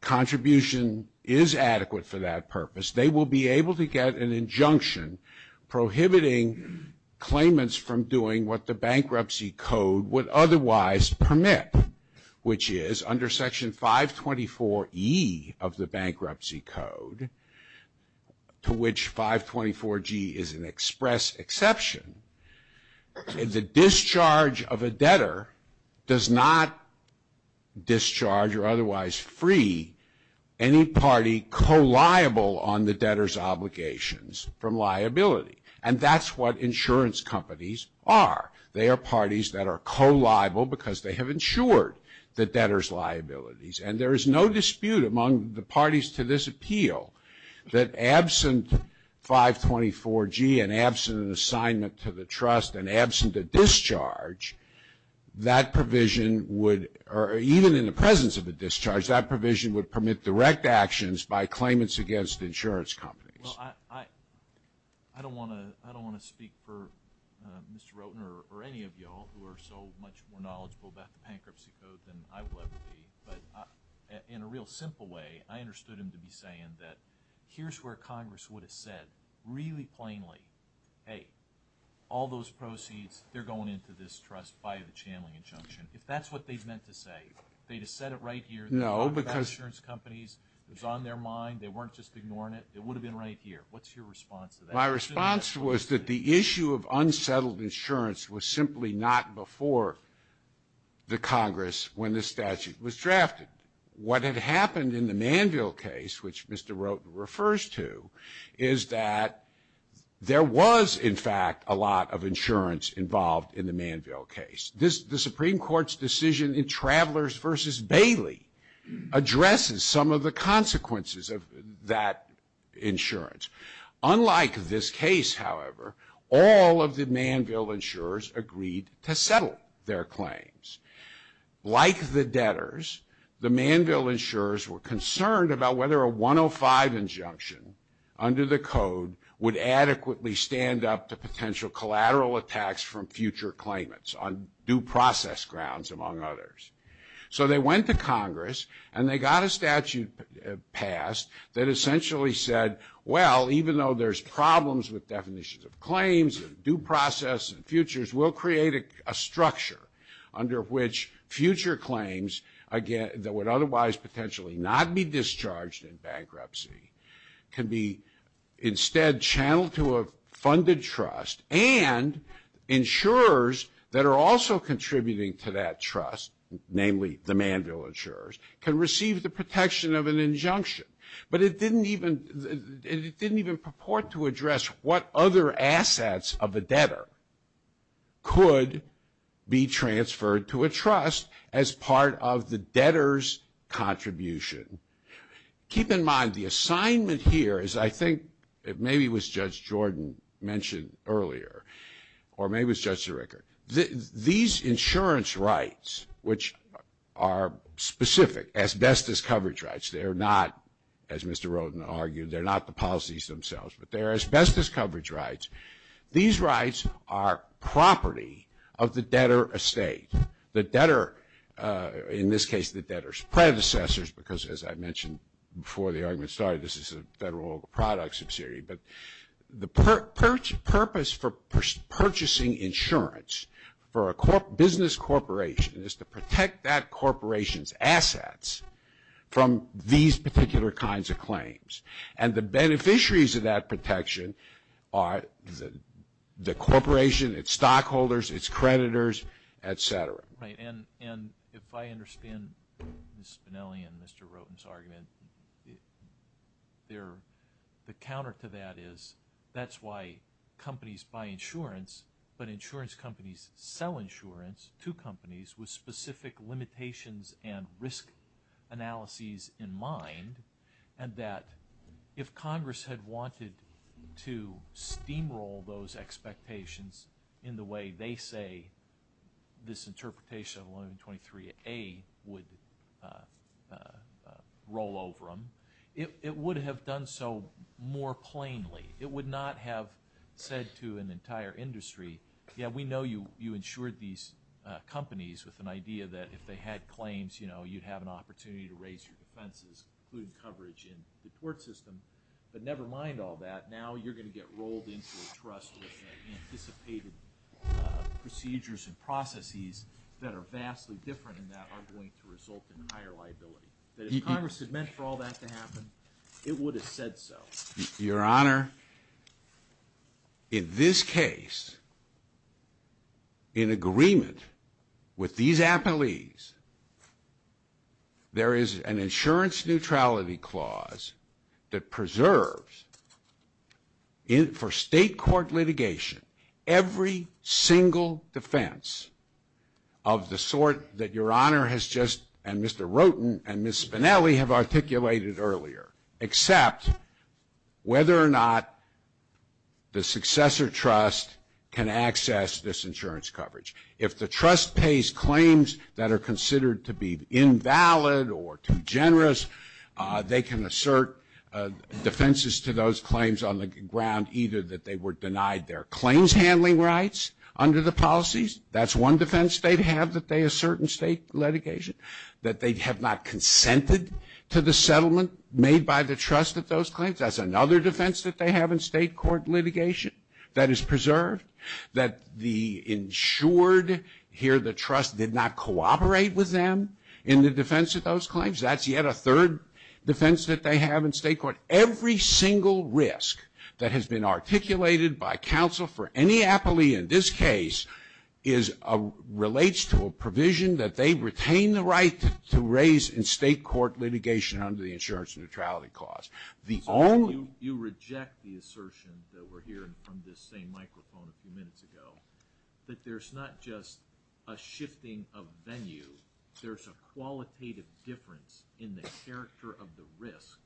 contribution is adequate for that purpose, they will be able to get an injunction prohibiting claimants from doing what the Bankruptcy Code would otherwise permit which is under Section 524E of the Bankruptcy Code to which 524G is an express exception. The discharge of a debtor does not discharge or otherwise free any party co-liable on the debtor's obligations from liability. And that's what insurance companies are. They are parties that are co-liable because they have insured the debtor's liabilities. And there is no dispute among the parties to this appeal that absent 524G and absent an assignment to the trust and absent a discharge, that provision would, or even in the presence of a discharge, that provision would permit direct actions by claimants against insurance companies. Well, I don't want to speak for Mr. Roten or any of you all who are so much more knowledgeable about the Bankruptcy Code than I will ever be. But in a real simple way, I understood him to be saying that here's where Congress would have said really plainly, hey, all those proceeds, they're going into this trust by a channeling injunction, if that's what they meant to say. They just said it right here. No, because. Insurance companies, it was on their mind. They weren't just ignoring it. It would have been right here. What's your response to that? My response was that the issue of unsettled insurance was simply not before the Congress when this statute was drafted. What had happened in the Manville case, which Mr. Roten refers to, is that there was, in fact, a lot of insurance involved in the Manville case. The Supreme Court's decision in Travelers v. Bailey addresses some of the consequences of that insurance. Unlike this case, however, all of the Manville insurers agreed to settle their claims. Like the debtors, the Manville insurers were concerned about whether a 105 injunction under the code would adequately stand up to potential collateral attacks from future claimants on due process grounds, among others. So they went to Congress, and they got a statute passed that essentially said, well, even though there's problems with definitions of claims and due process and futures, we'll create a structure under which future claims, again, that would otherwise potentially not be discharged in bankruptcy, can be instead channeled to a funded trust and insurers that are also contributing to that trust, namely the Manville insurers, can receive the protection of an injunction. But it didn't even purport to address what other assets of a debtor could be transferred to a trust as part of the debtor's contribution. Keep in mind, the assignment here is, I think, maybe it was Judge Jordan mentioned earlier, or maybe it was Judge Sirica, these insurance rights, which are specific, asbestos coverage rights, they're not, as Mr. Rodin argued, they're not the policies themselves, but they're asbestos coverage rights. These rights are property of the debtor estate. The debtor, in this case, the debtor's predecessors, because as I mentioned before the argument started, this is a federal products subsidiary, but the purpose for purchasing insurance for a business corporation is to protect that corporation's assets from these particular kinds of claims. And the beneficiaries of that protection are the corporation, its stockholders, its creditors, et cetera. And if I understand Ms. Spinelli and Mr. Rodin's argument, the counter to that is that's why companies buy insurance, but insurance companies sell insurance to companies with specific limitations and risk analyses in mind. And that if Congress had wanted to steamroll those expectations in the way they say this interpretation of 1123A would roll over them, it would have done so more plainly. It would not have said to an entire industry, yeah, we know you insured these companies with an idea that if they had claims, you'd have an opportunity to raise your defenses, including coverage in the court system. But never mind all that. Now you're going to get rolled into a trust with anticipated procedures and processes that are vastly different and that are going to result in higher liability. But if Congress had meant for all that to happen, it would have said so. Your Honor, in this case, in agreement with these affilies, there is an insurance neutrality clause that preserves, for state court litigation, every single defense of the sort that Your Honor has just, and Mr. Roten and Ms. Spinelli have articulated earlier, except whether or not the successor trust can access this insurance coverage. If the trust pays claims that are considered to be invalid or too generous, they can assert defenses to those claims on the ground either that they were denied their claims handling rights under the policies, that's one defense they'd have that they assert in state litigation, that they have not consented to the settlement made by the trust at those claims, that's another defense that they have in state court litigation that is preserved, that the insured here, the trust, did not cooperate with them in the defense of those claims, that's yet a third defense that they have in state court. Every single risk that has been articulated by counsel for any affiliate in this case relates to a provision that they retain the right to raise in state court litigation under the insurance neutrality clause. You reject the assertion that we're hearing from this same microphone a few minutes ago, that there's not just a shifting of venues, there's a qualitative difference in the character of the risk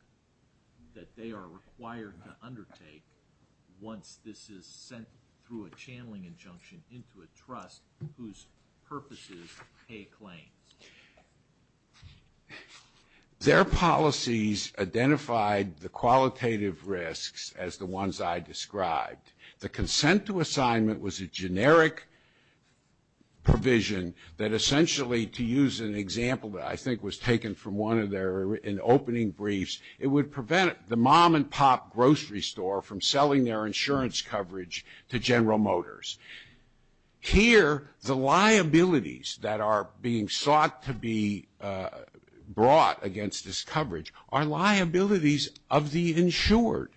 that they are required to undertake once this is sent through a channeling injunction into a trust whose purpose is to pay claims. Their policies identified the qualitative risks as the ones I described. The consent to assignment was a generic provision that essentially, to use an example that I think was taken from one of their opening briefs, it would prevent the mom and pop grocery store from selling their insurance coverage to General Motors. Here, the liabilities that are being sought to be brought against this coverage are liabilities of the insured.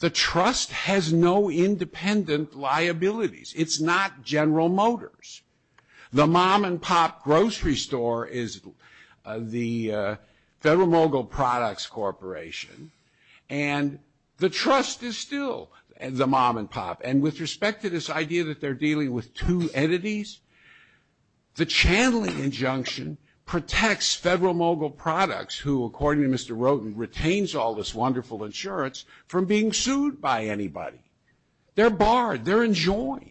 The trust has no independent liabilities. It's not General Motors. The mom and pop grocery store is the Federal Mogul Products Corporation, and the trust is still the mom and pop. And with respect to this idea that they're dealing with two entities, the channeling injunction protects Federal Mogul Products, who, according to Mr. Roden, retains all this wonderful insurance from being sued by anybody. They're barred. They're enjoined.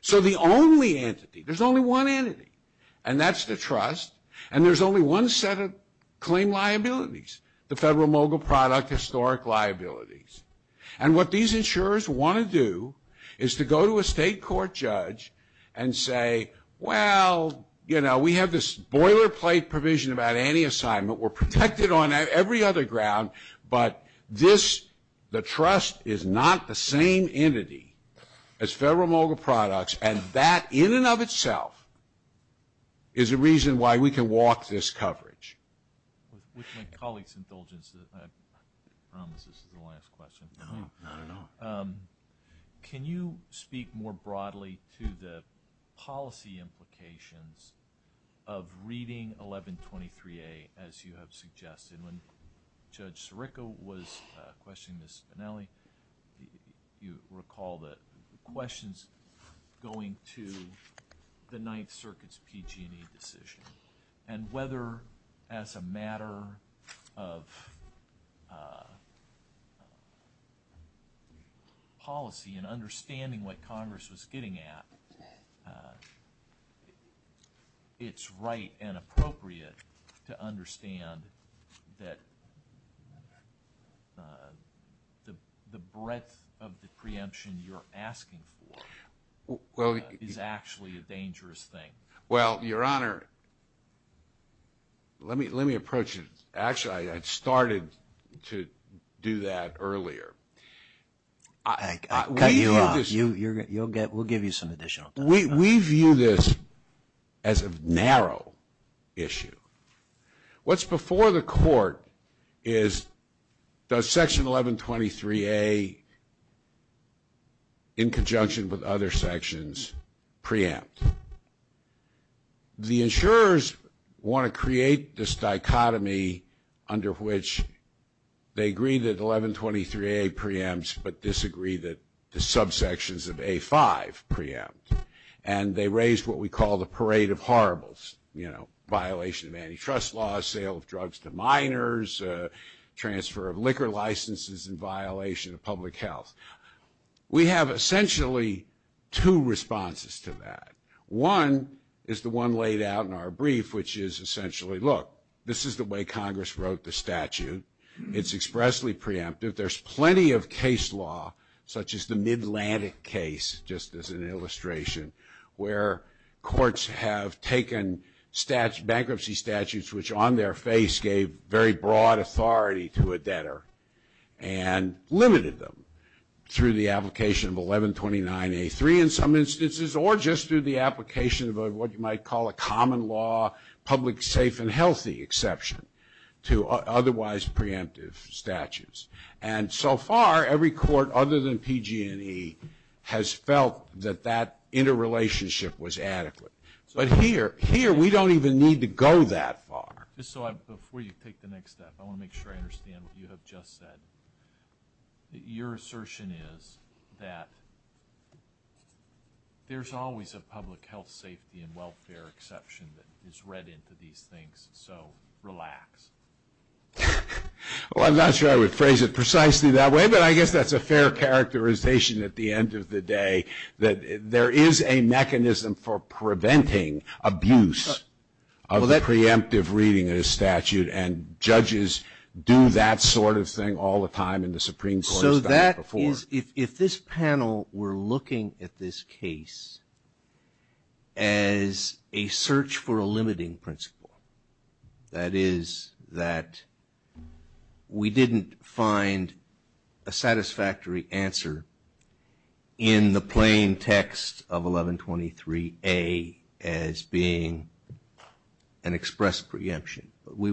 So the only entity, there's only one entity, and that's the trust, and there's only one set of claim liabilities, the Federal Mogul Product historic liabilities. And what these insurers want to do is to go to a state court judge and say, well, you know, we have this boilerplate provision about any assignment. We're protected on every other ground, but this, the trust, is not the same entity as Federal Mogul Products, and that in and of itself is the reason why we can walk this coverage. With my colleague's indulgence, this is the last question. Can you speak more broadly to the policy implications of reading 1123A as you have suggested? When Judge Sirica was questioning the Spinelli, you recall the questions going to the Ninth Circuit's PG&E decision and whether as a matter of policy and understanding what Congress was getting at, it's right and appropriate to understand that the breadth of the preemption you're asking for is actually a dangerous thing. Well, Your Honor, let me approach it. Actually, I started to do that earlier. We'll give you some additional time. We view this as a narrow issue. What's before the court is does Section 1123A, in conjunction with other sections, preempt? The insurers want to create this dichotomy under which they agree that 1123A preempts but disagree that the subsections of A5 preempt, and they raise what we call the parade of horribles, you know, violation of antitrust laws, sale of drugs to minors, transfer of liquor licenses in violation of public health. We have essentially two responses to that. One is the one laid out in our brief, which is essentially, look, this is the way Congress wrote the statute. It's expressly preemptive. But there's plenty of case law, such as the Midlantic case, just as an illustration, where courts have taken bankruptcy statutes, which on their face gave very broad authority to a debtor, and limited them through the application of 1129A3, in some instances, or just through the application of what you might call a common law, public safe and healthy exception, to otherwise preemptive statutes. And so far, every court other than PG&E has felt that that interrelationship was adequate. But here, we don't even need to go that far. Before you take the next step, I want to make sure I understand what you have just said. Your assertion is that there's always a public health, safety, and welfare exception that is read into these things, so relax. Well, I'm not sure I would phrase it precisely that way, but I guess that's a fair characterization at the end of the day, that there is a mechanism for preventing abuse of preemptive reading in a statute, and judges do that sort of thing all the time in the Supreme Court. So that is, if this panel were looking at this case as a search for a limiting principle, that is, that we didn't find a satisfactory answer in the plain text of 1123A as being an express preemption. We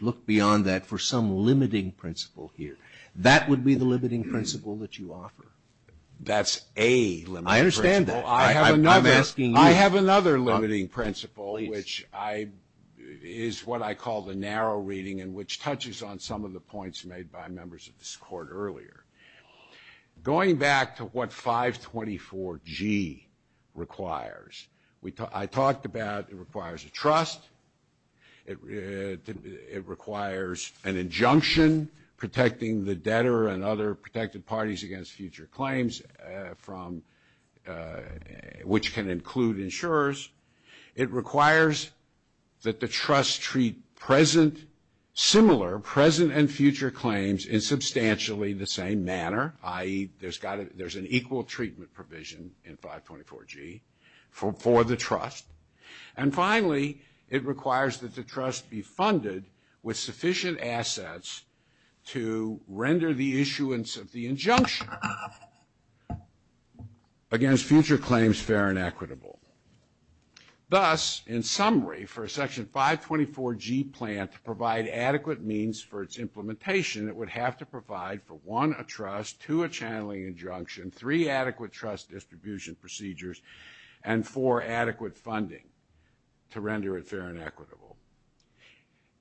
looked beyond that for some limiting principle here. That would be the limiting principle that you offer. That's a limiting principle. I understand that. I have another limiting principle, which is what I call the narrow reading, and which touches on some of the points made by members of this Court earlier. Going back to what 524G requires, I talked about it requires a trust. It requires an injunction protecting the debtor and other protected parties against future claims, which can include insurers. It requires that the trust treat present, similar, present and future claims in substantially the same manner, i.e., there's an equal treatment provision in 524G for the trust. And finally, it requires that the trust be funded with sufficient assets to render the issuance of the injunction against future claims fair and equitable. Thus, in summary, for a Section 524G plan to provide adequate means for its implementation, it would have to provide for, one, a trust, two, a channeling injunction, three, adequate trust distribution procedures, and four, adequate funding to render it fair and equitable.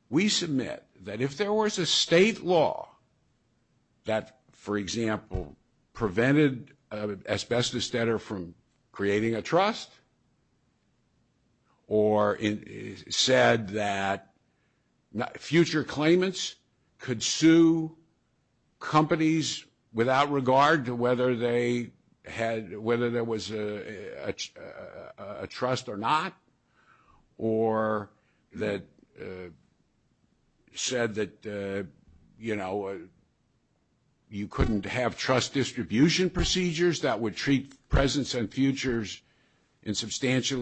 We submit that if there was a state law that, for example, prevented an asbestos debtor from creating a trust or said that future claimants could sue companies without regard to whether there was a trust or not, or that said that you couldn't have trust distribution procedures that would treat presents and futures in substantially the same manner.